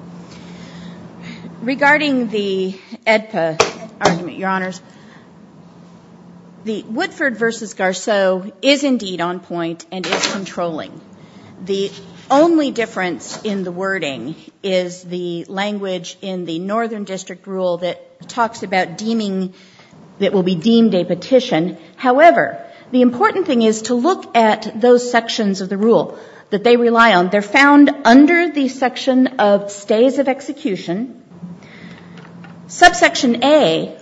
Regarding the AEDPA argument, Your Honors, the Woodford v. Garceau is indeed on point and is controlling. The only difference in the wording is the language in the Northern District Rule that talks about deeming, that will be deemed a petition. However, the important thing is to look at those sections of the rule that they rely on. They're found under the section of stays of execution. Subsection A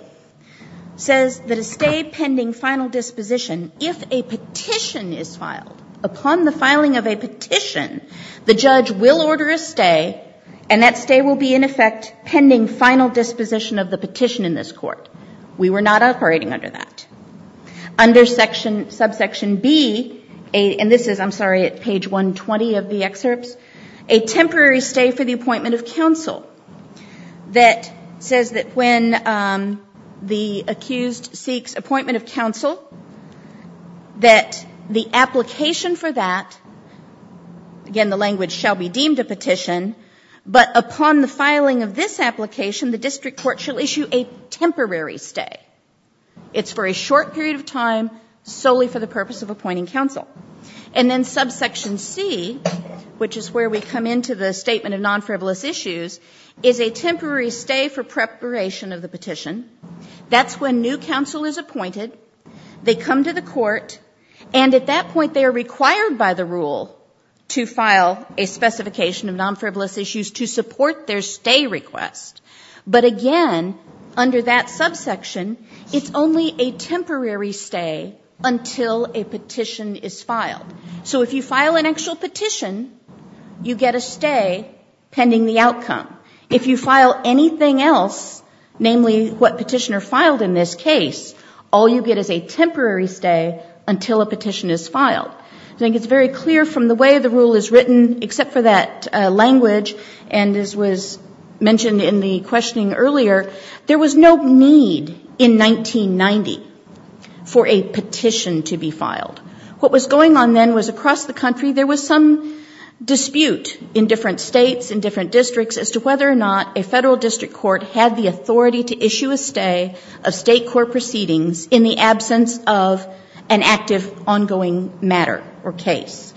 says that a stay pending final disposition, if a petition is filed, upon the filing of a petition, the judge will order a stay, and that stay will be, in effect, pending final disposition of the petition in this court. We were not operating under that. Under subsection B, and this is, I'm sorry, at page 120 of the excerpt, a temporary stay for the appointment of counsel that says that when the accused seeks appointment of counsel, that the application for that, again, the language shall be deemed a petition, but upon the filing of this application, the district court shall issue a temporary stay. It's for a short period of time, solely for the purpose of appointing counsel. And then subsection C, which is where we come into the statement of non-frivolous issues, That's when new counsel is appointed. They come to the court, and at that point, they are required by the rule to file a specification of non-frivolous issues to support their stay request. But again, under that subsection, it's only a temporary stay until a petition is filed. So if you file an actual petition, you get a stay pending the outcome. If you file anything else, namely what petitioner filed in this case, all you get is a temporary stay until a petition is filed. I think it's very clear from the way the rule is written, except for that language, and this was mentioned in the questioning earlier, there was no need in 1990 for a petition to be filed. What was going on then was across the country, there was some dispute in different states, in different districts, as to whether or not a federal district court had the authority to issue a stay of state court proceedings in the absence of an active, ongoing matter or case.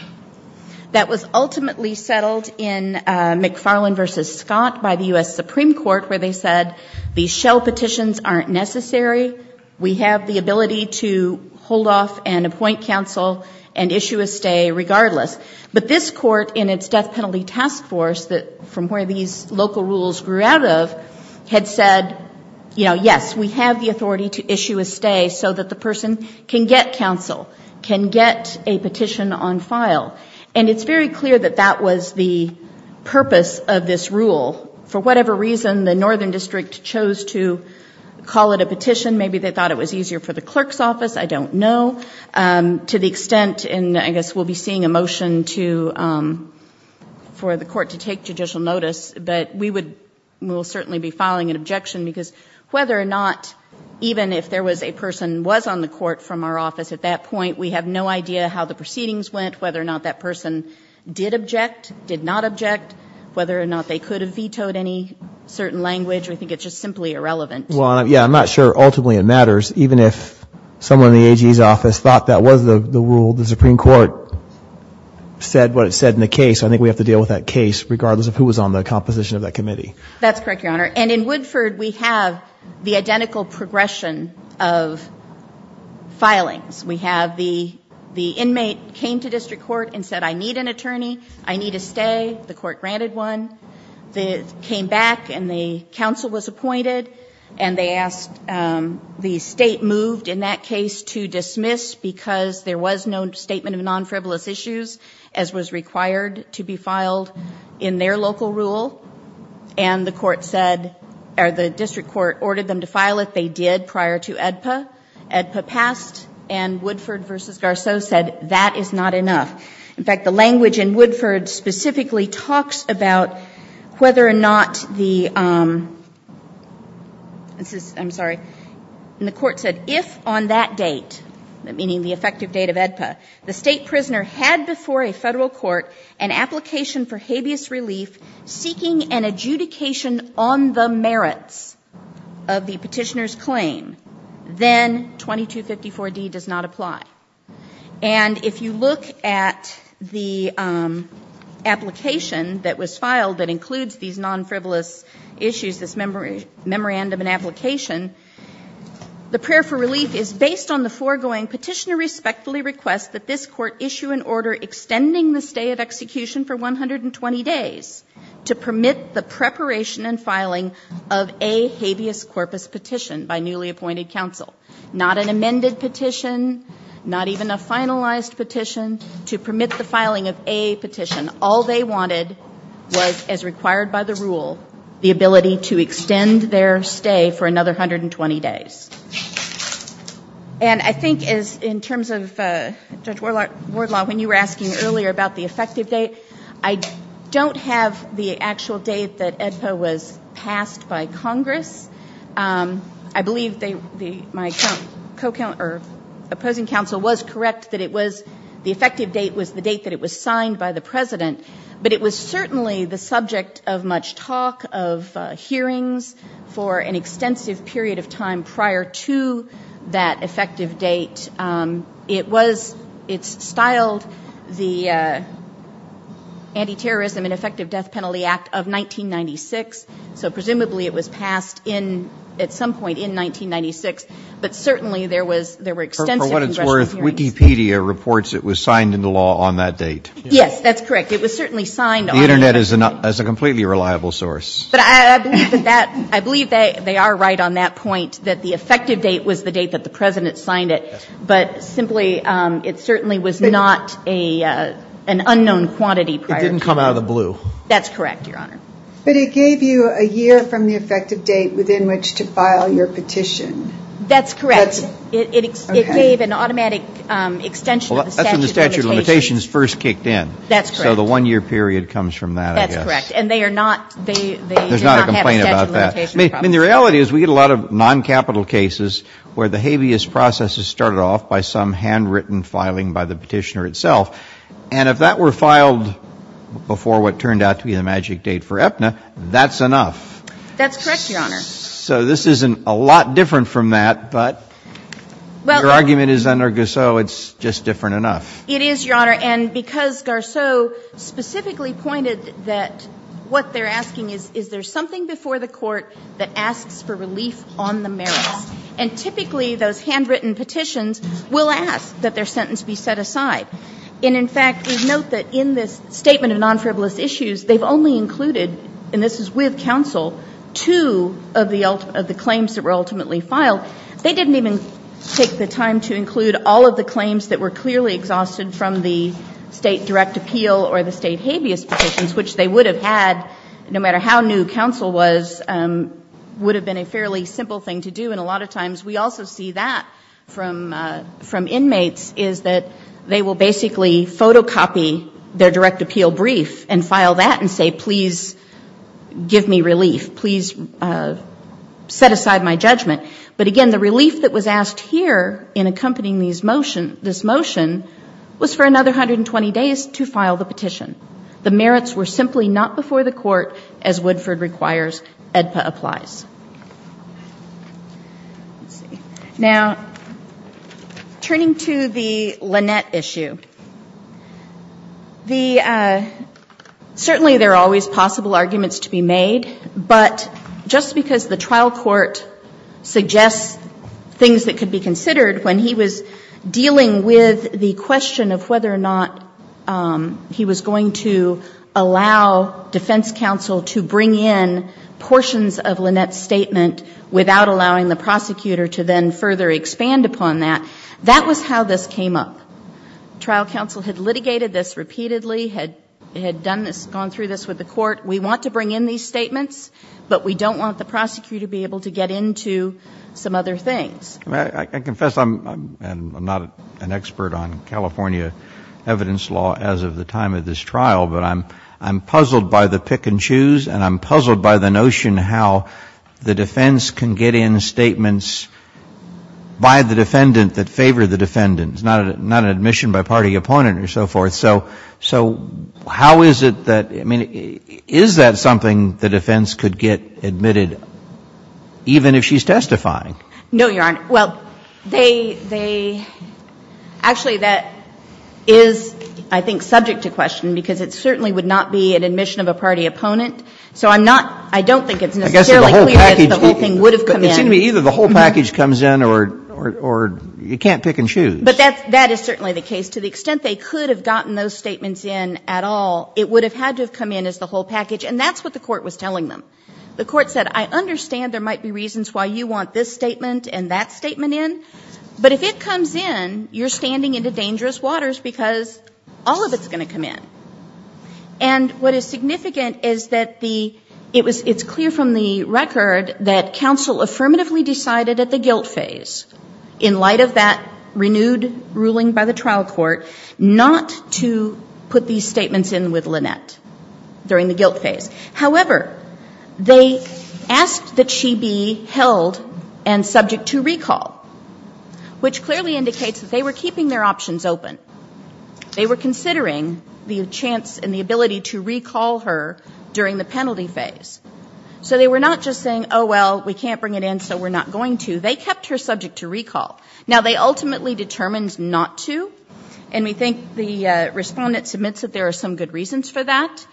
That was ultimately settled in McFarland v. Scott by the U.S. Supreme Court, where they said these shell petitions aren't necessary. We have the ability to hold off and appoint counsel and issue a stay regardless. But this court in its death penalty task force, from where these local rules grew out of, had said, yes, we have the authority to issue a stay so that the person can get counsel, can get a petition on file. And it's very clear that that was the purpose of this rule. For whatever reason, the northern district chose to call it a petition. Maybe they thought it was easier for the clerk's office, I don't know. To the extent, and I guess we'll be seeing a motion for the court to take judicial notice, but we will certainly be filing an objection because whether or not, even if there was a person who was on the court from our office at that point, we have no idea how the proceedings went, whether or not that person did object, did not object, whether or not they could have vetoed any certain language. We think it's just simply irrelevant. Well, yeah, I'm not sure ultimately it matters. Even if someone in the AG's office thought that was the rule, the Supreme Court said what it said in the case, I think we have to deal with that case regardless of who was on the composition of that committee. That's correct, Your Honor. And in Woodford, we have the identical progression of filings. We have the inmate came to district court and said, I need an attorney, I need a stay. The court granted one. They came back and the counsel was appointed and they asked, the state moved in that case to dismiss because there was no statement of non-frivolous issues as was required to be filed in their local rule. And the court said, or the district court ordered them to file it. They did prior to AEDPA. AEDPA passed and Woodford v. Garceau said that is not enough. In fact, the language in Woodford specifically talks about whether or not the, I'm sorry, and the court said, if on that date, meaning the effective date of AEDPA, the state prisoner had before a federal court an application for habeas relief seeking an adjudication on the merits of the petitioner's claim, then 2254D does not apply. And if you look at the application that was filed that includes these non-frivolous issues, this memorandum and application, the prayer for relief is based on the foregoing petitioner respectfully requests that this court issue an order extending the stay of execution for 120 days to permit the preparation and filing of a habeas corpus petition by newly appointed counsel. Not an amended petition, not even a finalized petition, to permit the filing of a petition. All they wanted was, as required by the rule, the ability to extend their stay for another 120 days. And I think in terms of, Judge Wardlaw, when you were asking earlier about the effective date, I don't have the actual date that AEDPA was passed by Congress. I believe my opposing counsel was correct that the effective date was the date that it was signed by the president. But it was certainly the subject of much talk, of hearings for an extensive period of time prior to that effective date. It was, it's filed the Anti-Terrorism and Effective Death Penalty Act of 1996. So presumably it was passed at some point in 1996. But certainly there were extensive congressional hearings. For what it's worth, Wikipedia reports it was signed into law on that date. Yes, that's correct. It was certainly signed on that date. The Internet is a completely reliable source. But I believe they are right on that point, that the effective date was the date that the president signed it. But simply, it certainly was not an unknown quantity prior to that. It didn't come out of the blue. That's correct, Your Honor. But it gave you a year from the effective date within which to file your petition. That's correct. It gave an automatic extension of the statute of limitations. Well, that's when the statute of limitations first kicked in. That's correct. So the one-year period comes from that, I guess. That's correct. And they are not, they do not have a statute of limitations. There's not a complaint about that. I mean, the reality is we get a lot of non-capital cases where the habeas process is started off by some handwritten filing by the petitioner itself. And if that were filed before what turned out to be the magic date for Aetna, that's enough. That's correct, Your Honor. So this isn't a lot different from that, but your argument is under Garceau it's just different enough. It is, Your Honor. And because Garceau specifically pointed that what they're asking is, is there something before the court that asks for relief on the merits? And typically, those handwritten petitions will ask that their sentence be set aside. And, in fact, note that in this statement of non-frivolous issues, they've only included, and this is with counsel, two of the claims that were ultimately filed. They didn't even take the time to include all of the claims that were clearly exhausted from the state direct appeal or the state habeas petitions, which they would have had no matter how new counsel was, would have been a fairly simple thing to do. And a lot of times we also see that from inmates is that they will basically photocopy their direct appeal brief and file that and say, please give me relief. Please set aside my judgment. But, again, the relief that was asked here in accompanying this motion was for another 120 days to file the petition. The merits were simply not before the court, as Woodford requires, EDPA applies. Now, turning to the Lynette issue, certainly there are always possible arguments to be made, but just because the trial court suggests things that could be considered when he was dealing with the question of whether or not he was going to allow defense counsel to bring in portions of Lynette's statement without allowing the prosecutor to then further expand upon that, that was how this came up. Trial counsel had litigated this repeatedly, had gone through this with the court. We want to bring in these statements, but we don't want the prosecutor to be able to get into some other things. I confess I'm not an expert on California evidence law as of the time of this trial, but I'm puzzled by the pick and choose and I'm puzzled by the notion how the defense can get in statements by the defendant that favor the defendant, not an admission by party opponent or so forth. So how is it that, I mean, is that something the defense could get admitted even if she's testifying? No, Your Honor. Well, they, actually that is, I think, subject to question because it certainly would not be an admission of a party opponent. So I'm not, I don't think it's necessarily clear that the whole thing would have come in. Excuse me, either the whole package comes in or you can't pick and choose. But that is certainly the case. To the extent they could have gotten those statements in at all, it would have had to have come in as the whole package, and that's what the court was telling them. The court said, I understand there might be reasons why you want this statement and that statement in, but if it comes in, you're standing into dangerous waters because all of it's going to come in. And what is significant is that the, it's clear from the record that counsel affirmatively decided at the guilt phase, in light of that renewed ruling by the trial court, not to put these statements in with Lynette during the guilt phase. However, they asked that she be held and subject to recall, which clearly indicates that they were keeping their options open. They were considering the chance and the ability to recall her during the penalty phase. So they were not just saying, oh, well, we can't bring it in, so we're not going to. They kept her subject to recall. Now, they ultimately determined not to, and we think the respondent submits that there are some good reasons for that.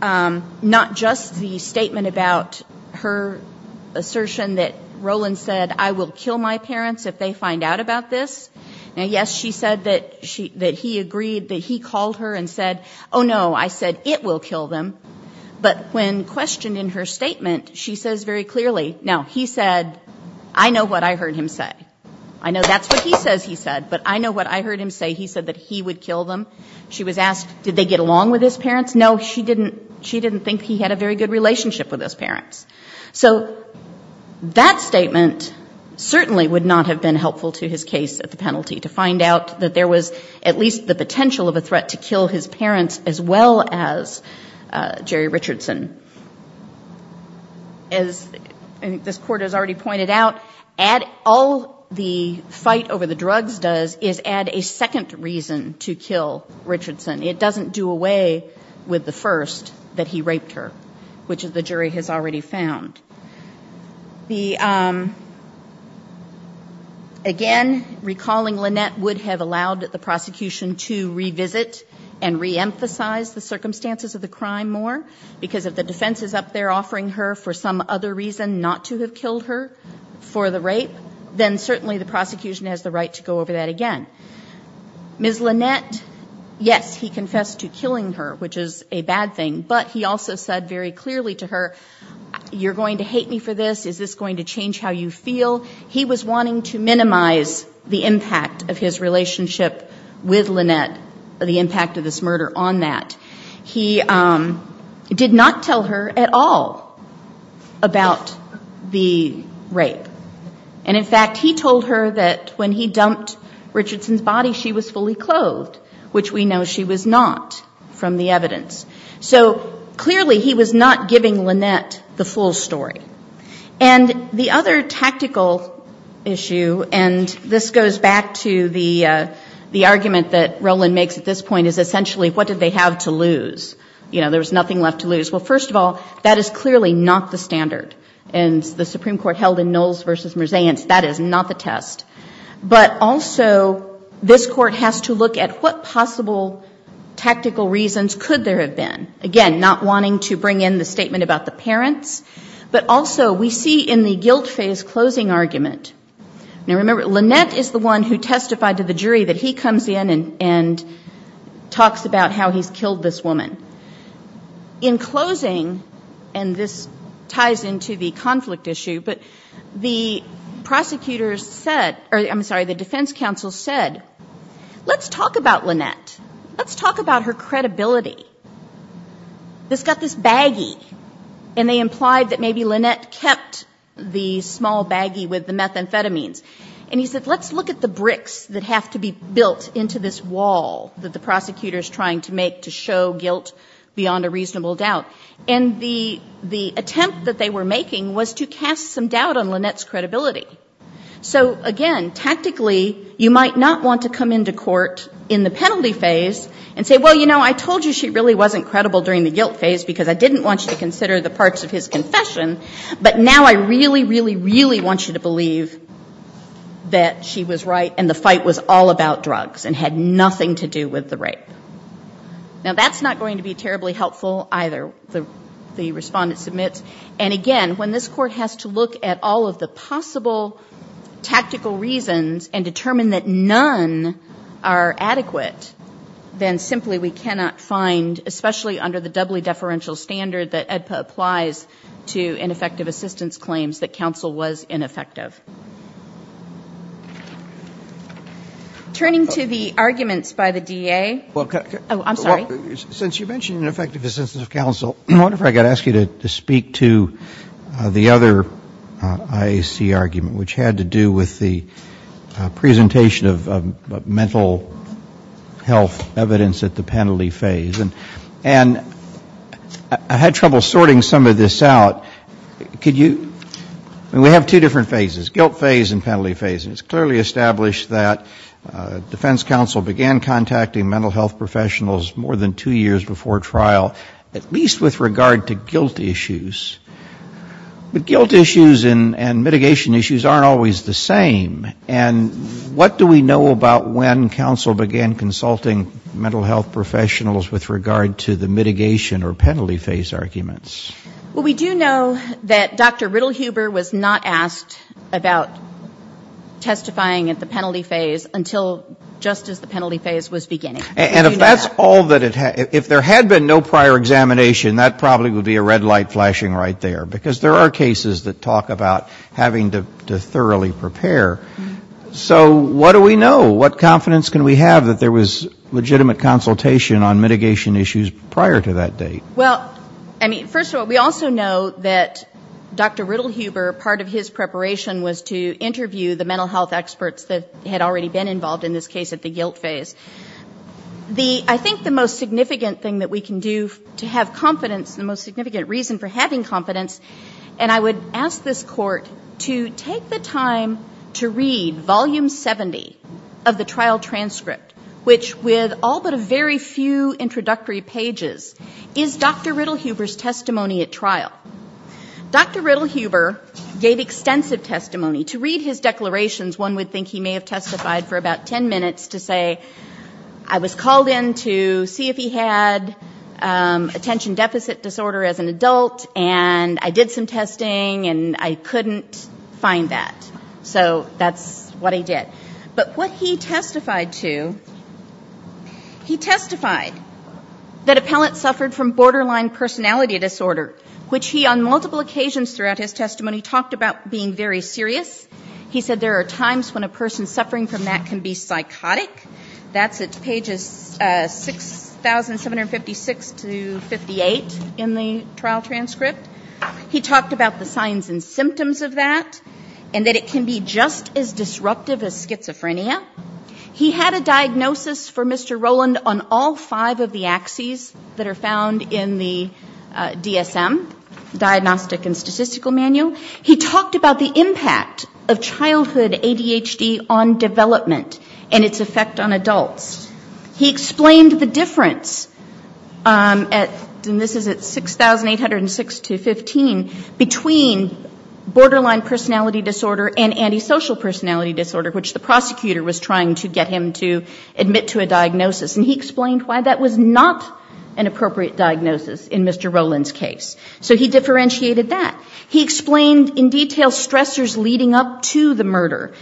Not just the statement about her assertion that Roland said, I will kill my parents if they find out about this. Now, yes, she said that he agreed, that he called her and said, oh, no, I said it will kill them. But when questioned in her statement, she says very clearly, no, he said, I know what I heard him say. I know that's what he says he said, but I know what I heard him say. He said that he would kill them. She was asked, did they get along with his parents? No, she didn't think he had a very good relationship with his parents. So that statement certainly would not have been helpful to his case at the penalty, to find out that there was at least the potential of a threat to kill his parents as well as Jerry Richardson. As this court has already pointed out, all the fight over the drugs does is add a second reason to kill Richardson. It doesn't do away with the first, that he raped her, which the jury has already found. Again, recalling Lynette would have allowed the prosecution to revisit and reemphasize the circumstances of the crime more, because if the defense is up there offering her for some other reason not to have killed her for the rape, then certainly the prosecution has the right to go over that again. Ms. Lynette, yes, he confessed to killing her, which is a bad thing, but he also said very clearly to her, you're going to hate me for this, is this going to change how you feel? He was wanting to minimize the impact of his relationship with Lynette, the impact of this murder on that. He did not tell her at all about the rape. In fact, he told her that when he dumped Richardson's body, she was fully clothed, which we know she was not from the evidence. Clearly, he was not giving Lynette the full story. The other tactical issue, and this goes back to the argument that Roland makes at this point, is essentially what did they have to lose? There's nothing left to lose. Well, first of all, that is clearly not the standard. In the Supreme Court held in Knowles v. Merseyance, that is not the test. But also, this court has to look at what possible tactical reasons could there have been. Again, not wanting to bring in the statement about the parents, but also we see in the guilt phase closing argument. Now remember, Lynette is the one who testified to the jury that he comes in and talks about how he killed this woman. In closing, and this ties into the conflict issue, but the defense counsel said, let's talk about Lynette. Let's talk about her credibility. This got this baggie, and they implied that maybe Lynette kept the small baggie with the methamphetamines. He said, let's look at the bricks that have to be built into this wall that the prosecutor is trying to make to show guilt beyond a reasonable doubt. The attempt that they were making was to cast some doubt on Lynette's credibility. Again, tactically, you might not want to come into court in the penalty phase and say, well, you know, I told you she really wasn't credible during the guilt phase because I didn't want you to consider the parts of his confession, but now I really, really, really want you to believe that she was right and the fight was all about drugs and had nothing to do with the rape. Now that's not going to be terribly helpful either, the respondent submits, and again, when this court has to look at all of the possible tactical reasons and determine that none are adequate, then simply we cannot find, especially under the doubly deferential standard that AEDPA applies to ineffective assistance claims, that counsel was ineffective. Turning to the arguments by the DA. Oh, I'm sorry. Since you mentioned ineffective assistance of counsel, I wonder if I could ask you to speak to the other IAC argument, which had to do with the presentation of mental health evidence at the penalty phase. And I had trouble sorting some of this out. We have two different phases, guilt phase and penalty phases. It's clearly established that defense counsel began contacting mental health professionals more than two years before trial, at least with regard to guilt issues. But guilt issues and mitigation issues aren't always the same. And what do we know about when counsel began consulting mental health professionals with regard to the mitigation or penalty phase arguments? Well, we do know that Dr. Riddle Huber was not asked about testifying at the penalty phase until just as the penalty phase was beginning. And if that's all that it had, if there had been no prior examination, that probably would be a red light flashing right there, because there are cases that talk about having to thoroughly prepare. So what do we know? What confidence can we have that there was legitimate consultation on mitigation issues prior to that date? Well, first of all, we also know that Dr. Riddle Huber, part of his preparation was to interview the mental health experts that had already been involved in this case at the guilt phase. I think the most significant thing that we can do to have confidence, the most significant reason for having confidence, and I would ask this court to take the time to read Volume 70 of the trial transcript, which with all but a very few introductory pages, is Dr. Riddle Huber's testimony at trial. Dr. Riddle Huber gave extensive testimony. To read his declarations, one would think he may have testified for about ten minutes to say, I was called in to see if he had attention deficit disorder as an adult, and I did some testing, and I couldn't find that. So that's what he did. But what he testified to, he testified that appellants suffered from borderline personality disorder, which he on multiple occasions throughout his testimony talked about being very serious. He said there are times when a person suffering from that can be psychotic. That's at pages 6,756 to 58 in the trial transcript. He talked about the signs and symptoms of that, and that it can be just as disruptive as schizophrenia. He had a diagnosis for Mr. Rowland on all five of the axes that are found in the DSM, Diagnostic and Statistical Manual. He talked about the impact of childhood ADHD on development and its effect on adults. He explained the difference, and this is at 6,806 to 15, between borderline personality disorder and antisocial personality disorder, which the prosecutor was trying to get him to admit to a diagnosis, and he explained why that was not an appropriate diagnosis in Mr. Rowland's case. So he differentiated that. He explained in detail stressors leading up to the murder.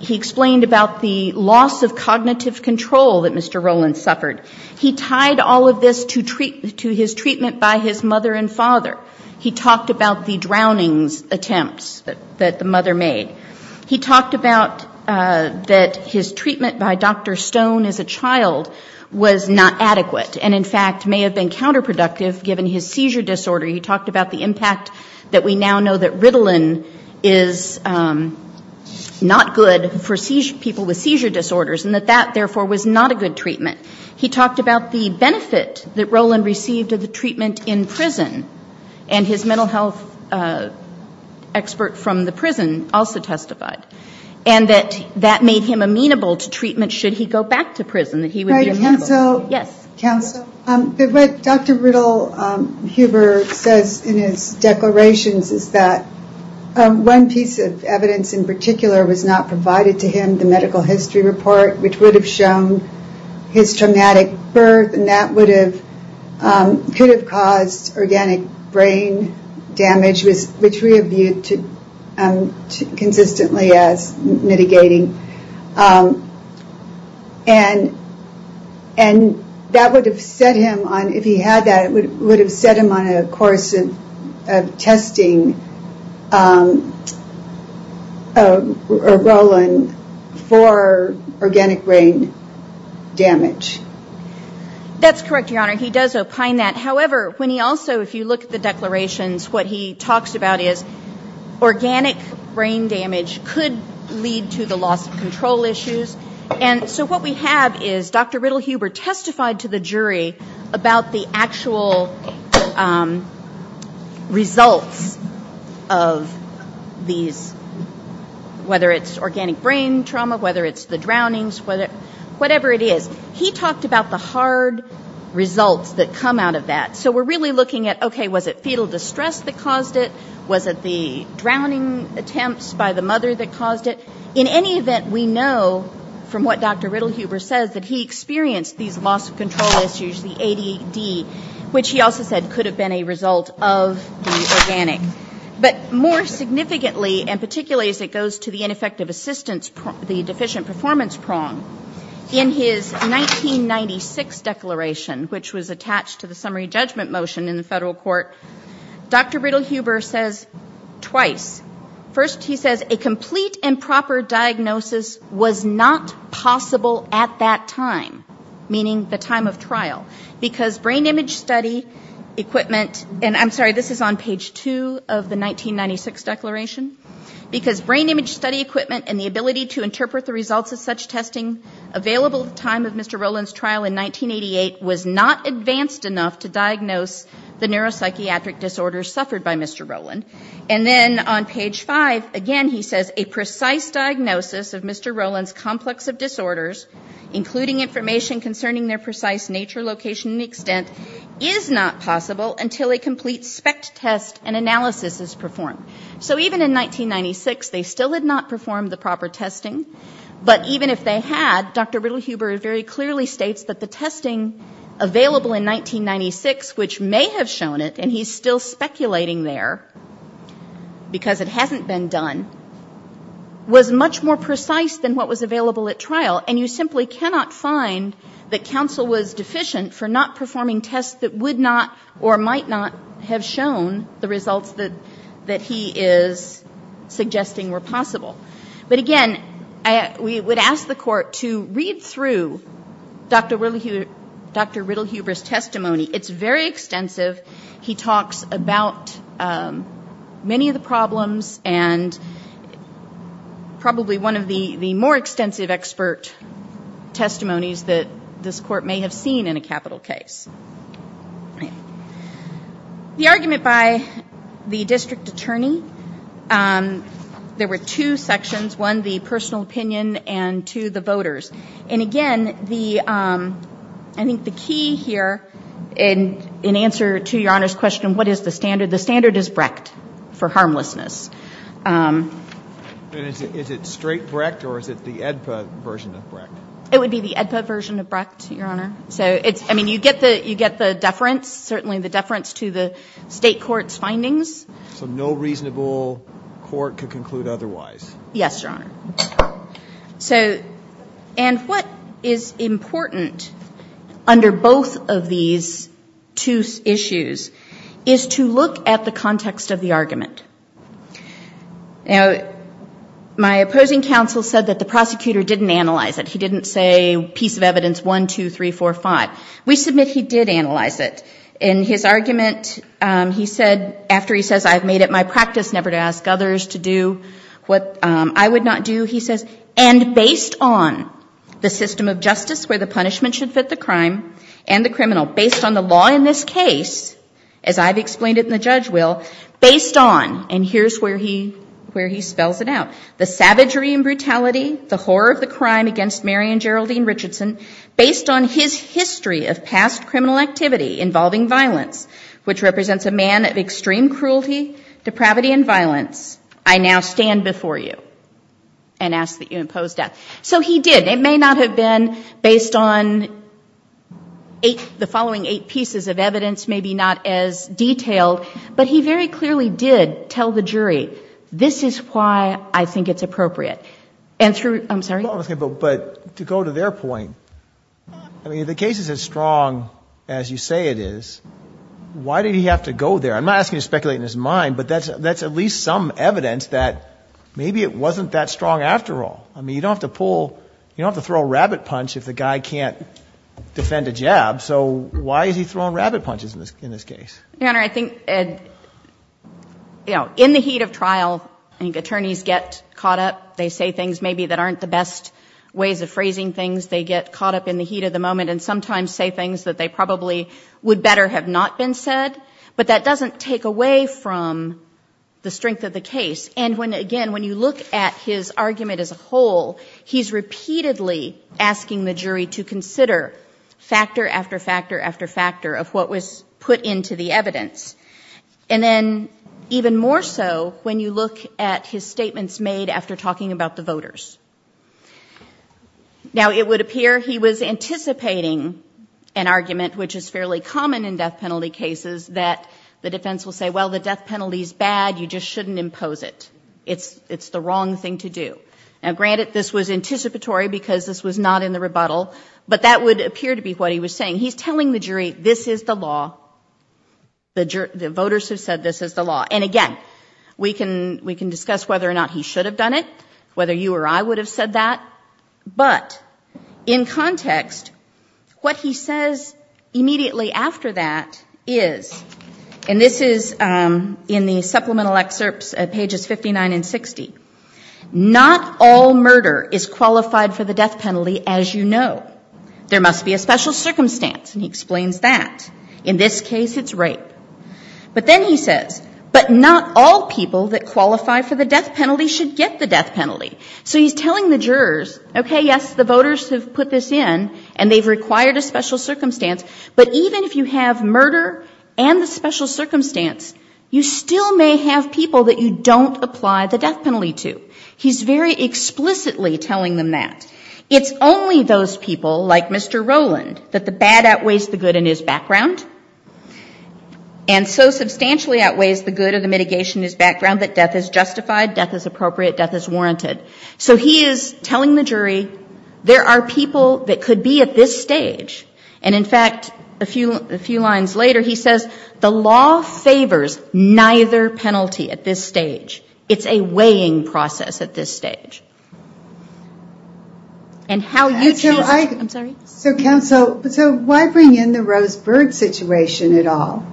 He explained about the loss of cognitive control that Mr. Rowland suffered. He tied all of this to his treatment by his mother and father. He talked about the drowning attempts that the mother made. He talked about that his treatment by Dr. Stone as a child was not adequate and, in fact, may have been counterproductive given his seizure disorder. He talked about the impact that we now know that Ritalin is not good for people with seizure disorders and that that, therefore, was not a good treatment. He talked about the benefit that Rowland received of the treatment in prison, and his mental health expert from the prison also testified, and that that made him amenable to treatment should he go back to prison. Sorry, counsel. Yes. Counsel, what Dr. Riddle-Huber says in his declarations is that one piece of evidence in particular was not provided to him, the medical history report, which would have shown his traumatic birth, and that could have caused organic brain damage, which we reviewed consistently as mitigating. And that would have set him on, if he had that, it would have set him on a course of testing Rowland for organic brain damage. That's correct, Your Honor. He does opine that. However, when he also, if you look at the declarations, what he talks about is organic brain damage could lead to the loss of control issues. And so what we have is Dr. Riddle-Huber testified to the jury about the actual results of these, whether it's organic brain trauma, whether it's the drownings, whatever it is. He talked about the hard results that come out of that. So we're really looking at, okay, was it fetal distress that caused it? Was it the drowning attempts by the mother that caused it? In any event, we know from what Dr. Riddle-Huber says that he experienced these loss of control issues, the ADD, which he also said could have been a result of the organic. But more significantly, and particularly as it goes to the ineffective assistance, the deficient performance prong, in his 1996 declaration, which was attached to the summary judgment motion in the federal court, Dr. Riddle-Huber says twice. First, he says a complete and proper diagnosis was not possible at that time, meaning the time of trial, because brain image study equipment, and I'm sorry, this is on page 2 of the 1996 declaration, because brain image study equipment and the ability to interpret the results of such testing available at the time of Mr. Rowland's trial in 1988 was not advanced enough to diagnose the neuropsychiatric disorders suffered by Mr. Rowland. And then on page 5, again, he says a precise diagnosis of Mr. Rowland's complex of disorders, including information concerning their precise nature, location, and extent, is not possible until a complete spec test and analysis is performed. So even in 1996, they still had not performed the proper testing, but even if they had, Dr. Riddle-Huber very clearly states that the testing available in 1996, which may have shown it, and he's still speculating there, because it hasn't been done, was much more precise than what was available at trial. And you simply cannot find that counsel was deficient for not performing tests that would not or might not have shown the results that he is suggesting were possible. But again, we would ask the court to read through Dr. Riddle-Huber's testimony. It's very extensive. He talks about many of the problems and probably one of the more extensive expert testimonies that this court may have seen in a capital case. The argument by the district attorney, there were two sections, one the personal opinion and two the voters. And again, I think the key here in answer to Your Honor's question, what is the standard? The standard is Brecht for harmlessness. Is it straight Brecht or is it the AEDPA version of Brecht? It would be the AEDPA version of Brecht, Your Honor. I mean, you get the deference, certainly the deference to the state court's findings. So no reasonable court could conclude otherwise. Yes, Your Honor. And what is important under both of these two issues is to look at the context of the argument. Now, my opposing counsel said that the prosecutor didn't analyze it. He didn't say piece of evidence 1, 2, 3, 4, 5. We submit he did analyze it. In his argument, he said, after he says, I've made it my practice never to ask others to do what I would not do, he says, and based on the system of justice where the punishment should fit the crime and the criminal, based on the law in this case, as I've explained it and the judge will, based on, and here's where he spells it out, the savagery and brutality, the horror of the crime against Mary and Geraldine Richardson, based on his history of past criminal activity involving violence, which represents a man of extreme cruelty, depravity, and violence, I now stand before you and ask that you impose that. So he did. Maybe not as detailed, but he very clearly did tell the jury, this is why I think it's appropriate. I'm sorry? But to go to their point, I mean, if the case is as strong as you say it is, why did he have to go there? I'm not asking to speculate in his mind, but that's at least some evidence that maybe it wasn't that strong after all. I mean, you don't have to pull, you don't have to throw a rabbit punch if the guy can't defend a jab, so why did he throw rabbit punches in this case? Your Honor, I think in the heat of trial, I think attorneys get caught up, they say things maybe that aren't the best ways of phrasing things, they get caught up in the heat of the moment and sometimes say things that they probably would better have not been said, but that doesn't take away from the strength of the case. And again, when you look at his argument as a whole, he's repeatedly asking the jury to consider factor after factor after factor of what was put into the evidence, and then even more so when you look at his statements made after talking about the voters. Now, it would appear he was anticipating an argument, which is fairly common in death penalty cases, that the defense will say, well, the death penalty is bad, you just shouldn't impose it. It's the wrong thing to do. Now, granted, this was anticipatory because this was not in the rebuttal, but that would appear to be what he was saying. He's telling the jury this is the law, the voters have said this is the law. And again, we can discuss whether or not he should have done it, whether you or I would have said that, but in context, what he says immediately after that is, and this is in the supplemental excerpts at pages 59 and 60, not all murder is qualified for the death penalty, as you know. There must be a special circumstance, and he explains that. In this case, it's rape. But then he says, but not all people that qualify for the death penalty should get the death penalty. So he's telling the jurors, okay, yes, the voters have put this in, and they've required a special circumstance, but even if you have murder and the special circumstance, you still may have people that you don't apply the death penalty to. He's very explicitly telling them that. It's only those people, like Mr. Rowland, that the bad outweighs the good in his background, and so substantially outweighs the good of the mitigation in his background that death is justified, death is appropriate, death is warranted. So he is telling the jury there are people that could be at this stage, and, in fact, a few lines later, he says, the law favors neither penalty at this stage. It's a weighing process at this stage. And how you can... So, counsel, why bring in the Rose Bird situation at all?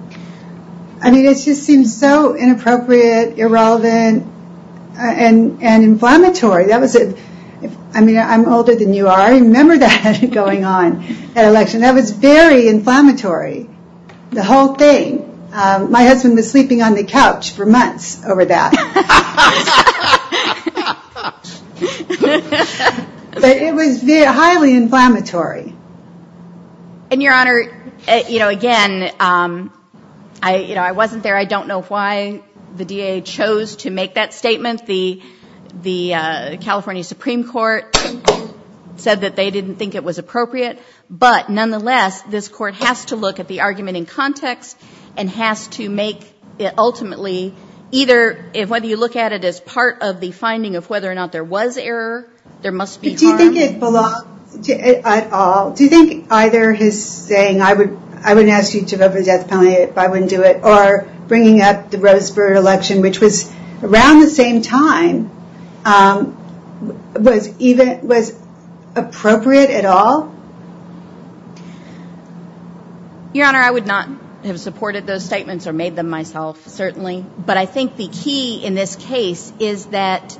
I mean, it just seems so inappropriate, irrelevant, and inflammatory. I mean, I'm older than you are. I remember that going on at election. That was very inflammatory, the whole thing. My husband was sleeping on the couch for months over that. But it was highly inflammatory. And, Your Honor, you know, again, I wasn't there. I don't know why the DA chose to make that statement. The California Supreme Court said that they didn't think it was appropriate. But, nonetheless, this court has to look at the argument in context and has to make it ultimately either whether you look at it as part of the finding of whether or not there was error, there must be... Do you think it belongs at all? Do you think either his saying, I wouldn't ask you to vote for death penalty if I wouldn't do it, or bringing up the Rose Bird election, which was around the same time, was appropriate at all? Your Honor, I would not have supported those statements or made them myself, certainly. But I think the key in this case is that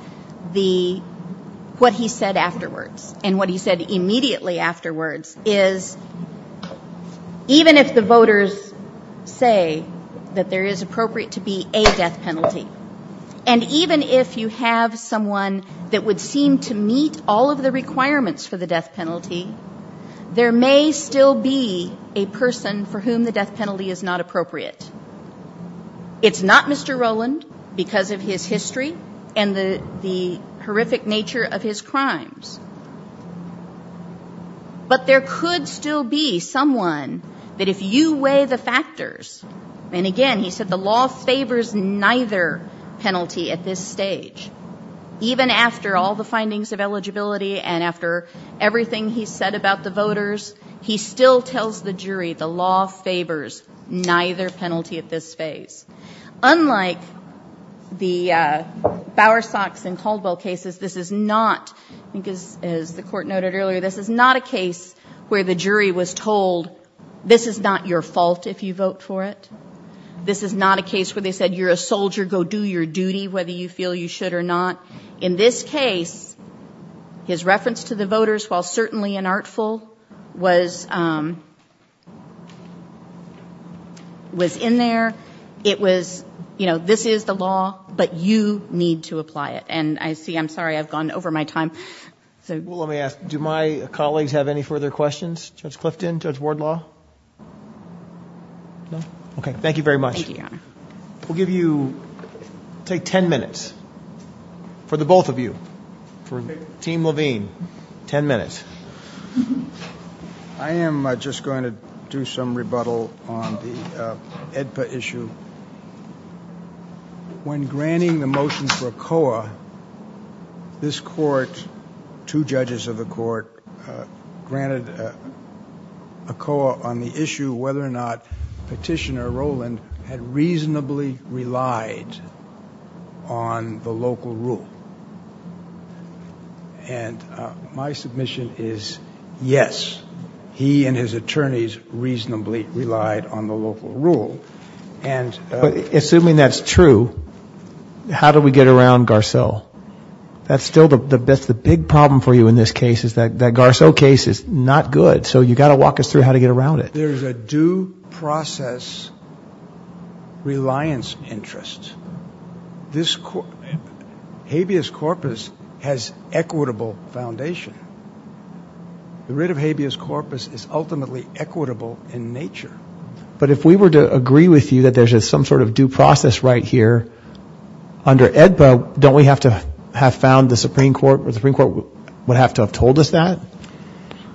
what he said afterwards and what he said immediately afterwards is, even if the voters say that there is appropriate to be a death penalty, and even if you have someone that would seem to meet all of the requirements for the death penalty, there may still be a person for whom the death penalty is not appropriate. It's not Mr. Rowland because of his history and the horrific nature of his crimes. But there could still be someone that if you weigh the factors, and again, he said the law favors neither penalty at this stage, even after all the findings of eligibility and after everything he said about the voters, he still tells the jury the law favors neither penalty at this stage. Unlike the Bowers-Box and Caldwell cases, this is not, as the court noted earlier, this is not a case where the jury was told, this is not your fault if you vote for it. This is not a case where they said, you're a soldier, go do your duty, whether you feel you should or not. In this case, his reference to the voters, while certainly unartful, was in there. It was, you know, this is the law, but you need to apply it. And I see, I'm sorry, I've gone over my time. Let me ask, do my colleagues have any further questions? Judge Clifton, Judge Wardlaw? No? Okay, thank you very much. Thank you, Your Honor. We'll give you, take ten minutes, for the both of you, for Team Levine, ten minutes. I am just going to do some rebuttal on the AEDPA issue. When granting the motion for COA, this court, two judges of the court, granted a COA on the issue whether or not Petitioner Rowland had reasonably relied on the local rule. And my submission is yes, he and his attorneys reasonably relied on the local rule. Assuming that's true, how do we get around Garcelle? That's still the big problem for you in this case, is that Garcelle case is not good. So you've got to walk us through how to get around it. There's a due process reliance interest. This habeas corpus has equitable foundation. The writ of habeas corpus is ultimately equitable in nature. But if we were to agree with you that there's some sort of due process right here, under AEDPA, don't we have to have found the Supreme Court, or the Supreme Court would have to have told us that?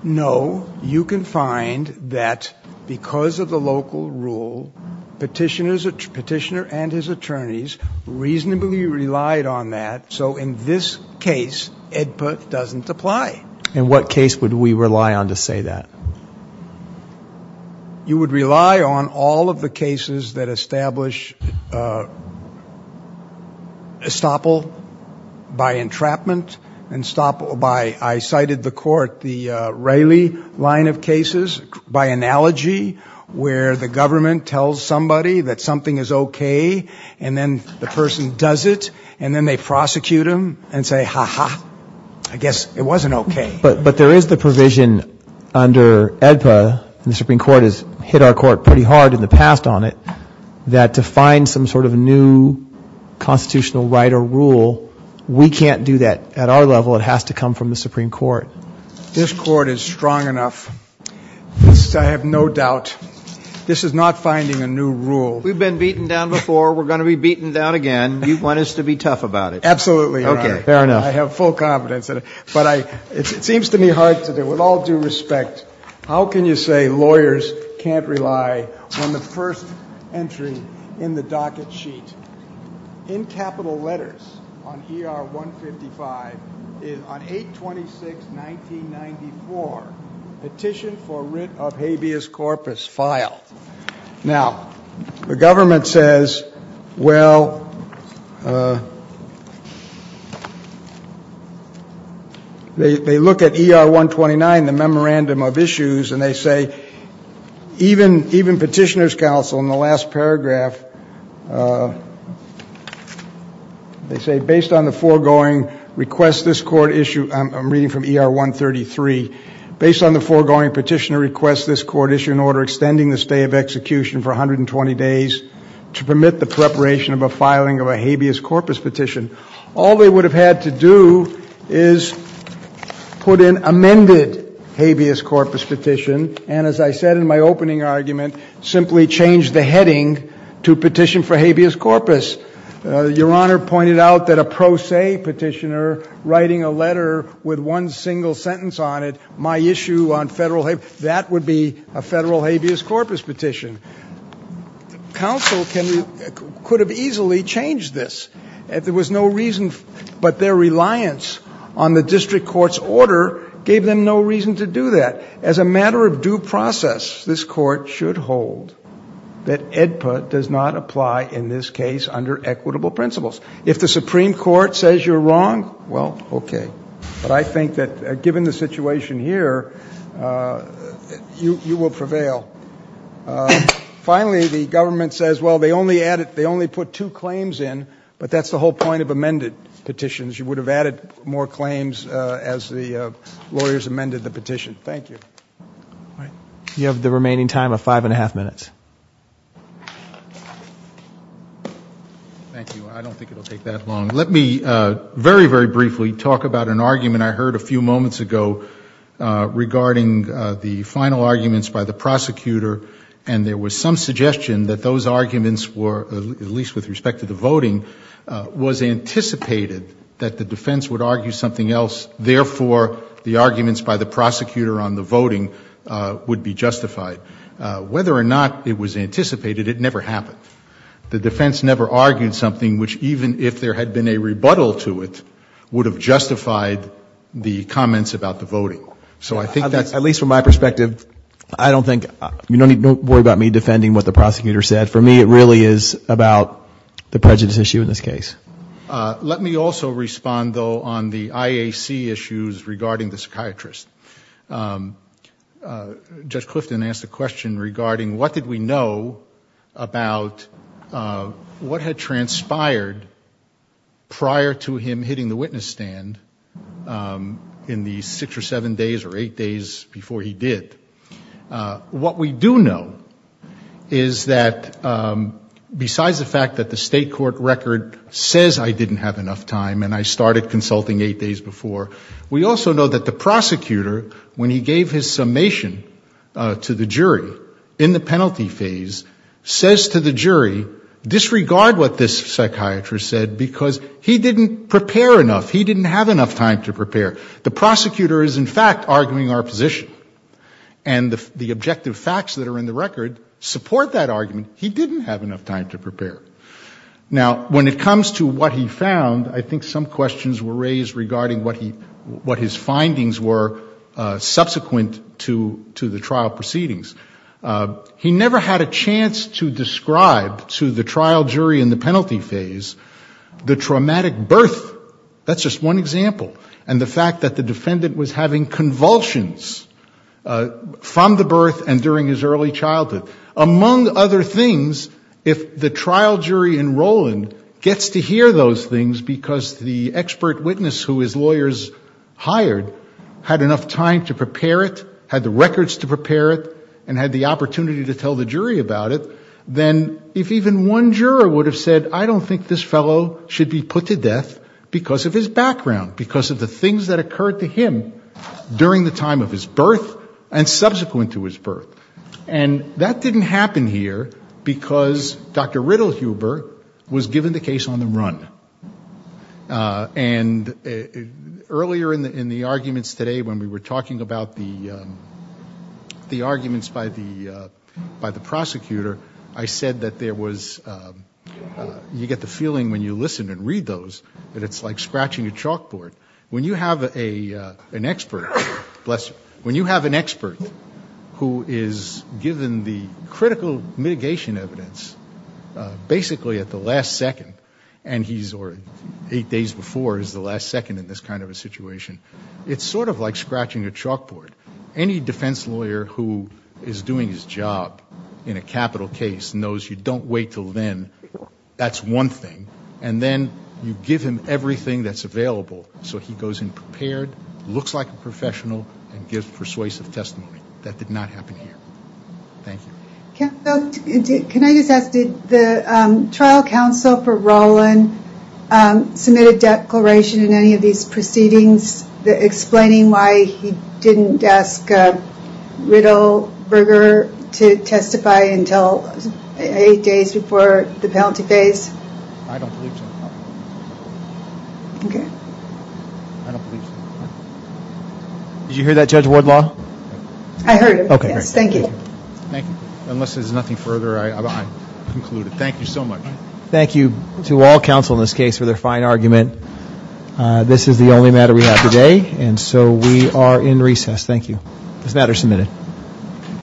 No, you can find that because of the local rule, Petitioner and his attorneys reasonably relied on that. So in this case, AEDPA doesn't apply. In what case would we rely on to say that? You would rely on all of the cases that establish estoppel by entrapment and estoppel by, I cited the court, the Raley line of cases, by analogy, where the government tells somebody that something is okay, and then the person does it, and then they prosecute them and say, ha ha, I guess it wasn't okay. But there is the provision under AEDPA, and the Supreme Court has hit our court pretty hard in the past on it, that to find some sort of new constitutional right or rule, we can't do that at our level. It has to come from the Supreme Court. This court is strong enough. I have no doubt. This is not finding a new rule. We've been beaten down before. We're going to be beaten down again. You want us to be tough about it. Absolutely. Okay. Fair enough. I have full confidence in it. But it seems to me, Hodge, that with all due respect, how can you say lawyers can't rely on the first entry in the docket sheet? In capital letters on ER 155, on 8-26-1994, petition for writ of habeas corpus, file. Now, the government says, well, they look at ER 129, the memorandum of issues, and they say, even petitioner's counsel in the last paragraph, they say, based on the foregoing request this court issue, I'm reading from ER 133, based on the foregoing petitioner request this court issue an order extending the stay of execution for 120 days to permit the preparation of a filing of a habeas corpus petition. All they would have had to do is put in amended habeas corpus petition and, as I said in my opening argument, simply change the heading to petition for habeas corpus. Your Honor pointed out that a pro se petitioner writing a letter with one single sentence on it, my issue on federal habeas corpus, that would be a federal habeas corpus petition. Counsel could have easily changed this. There was no reason, but their reliance on the district court's order gave them no reason to do that. As a matter of due process, this court should hold that EDPUT does not apply in this case under equitable principles. If the Supreme Court says you're wrong, well, okay. But I think that given the situation here, you will prevail. Finally, the government says, well, they only put two claims in, but that's the whole point of amended petitions. You would have added more claims as the lawyers amended the petition. Thank you. You have the remaining time of five and a half minutes. Thank you. I don't think it will take that long. Let me very, very briefly talk about an argument I heard a few moments ago regarding the final arguments by the prosecutor, and there was some suggestion that those arguments were, at least with respect to the voting, was anticipated that the defense would argue something else, therefore the arguments by the prosecutor on the voting would be justified. Whether or not it was anticipated, it never happened. The defense never argued something which, even if there had been a rebuttal to it, would have justified the comments about the voting. At least from my perspective, don't worry about me defending what the prosecutor said. For me, it really is about the prejudice issue in this case. Let me also respond, though, on the IAC issues regarding the psychiatrist. Judge Clifton asked a question regarding what did we know about what had transpired prior to him hitting the witness stand in the six or seven days or eight days before he did. What we do know is that besides the fact that the state court record says I didn't have enough time and I started consulting eight days before, we also know that the prosecutor, when he gave his summation to the jury in the penalty phase, says to the jury, disregard what this psychiatrist said because he didn't prepare enough, he didn't have enough time to prepare. The prosecutor is, in fact, arguing our position. And the objective facts that are in the record support that argument. He didn't have enough time to prepare. Now, when it comes to what he found, I think some questions were raised regarding what his findings were subsequent to the trial proceedings. He never had a chance to describe to the trial jury in the penalty phase the traumatic birth. That's just one example. And the fact that the defendant was having convulsions from the birth and during his early childhood. Among other things, if the trial jury in Roland gets to hear those things because the expert witness who his lawyers hired had enough time to prepare it, had the records to prepare it, and had the opportunity to tell the jury about it, then if even one juror would have said, I don't think this fellow should be put to death because of his background, because of the things that occurred to him during the time of his birth and subsequent to his birth. And that didn't happen here because Dr. Riddle Huber was given the case on the run. And earlier in the arguments today when we were talking about the arguments by the prosecutor, I said that you get the feeling when you listen and read those that it's like scratching a chalkboard. When you have an expert who is given the critical mitigation evidence, basically at the last second, or eight days before is the last second in this kind of a situation, it's sort of like scratching a chalkboard. Any defense lawyer who is doing his job in a capital case knows you don't wait until then. That's one thing. And then you give him everything that's available so he goes in prepared, looks like a professional, and gives persuasive testimony. That did not happen here. Thank you. Can I just ask, did the trial counsel for Roland submit a declaration in any of these proceedings explaining why he didn't ask Riddle Huber to testify until eight days before the penalty phase? I don't think so. Okay. I don't think so. Did you hear that, Judge Wardlaw? I heard it. Okay. Thank you. Thank you. Unless there's nothing further, I'll conclude it. Thank you so much. Thank you to all counsel in this case for their fine argument. This is the only matter we have today, and so we are in recess. Thank you. This matter is submitted.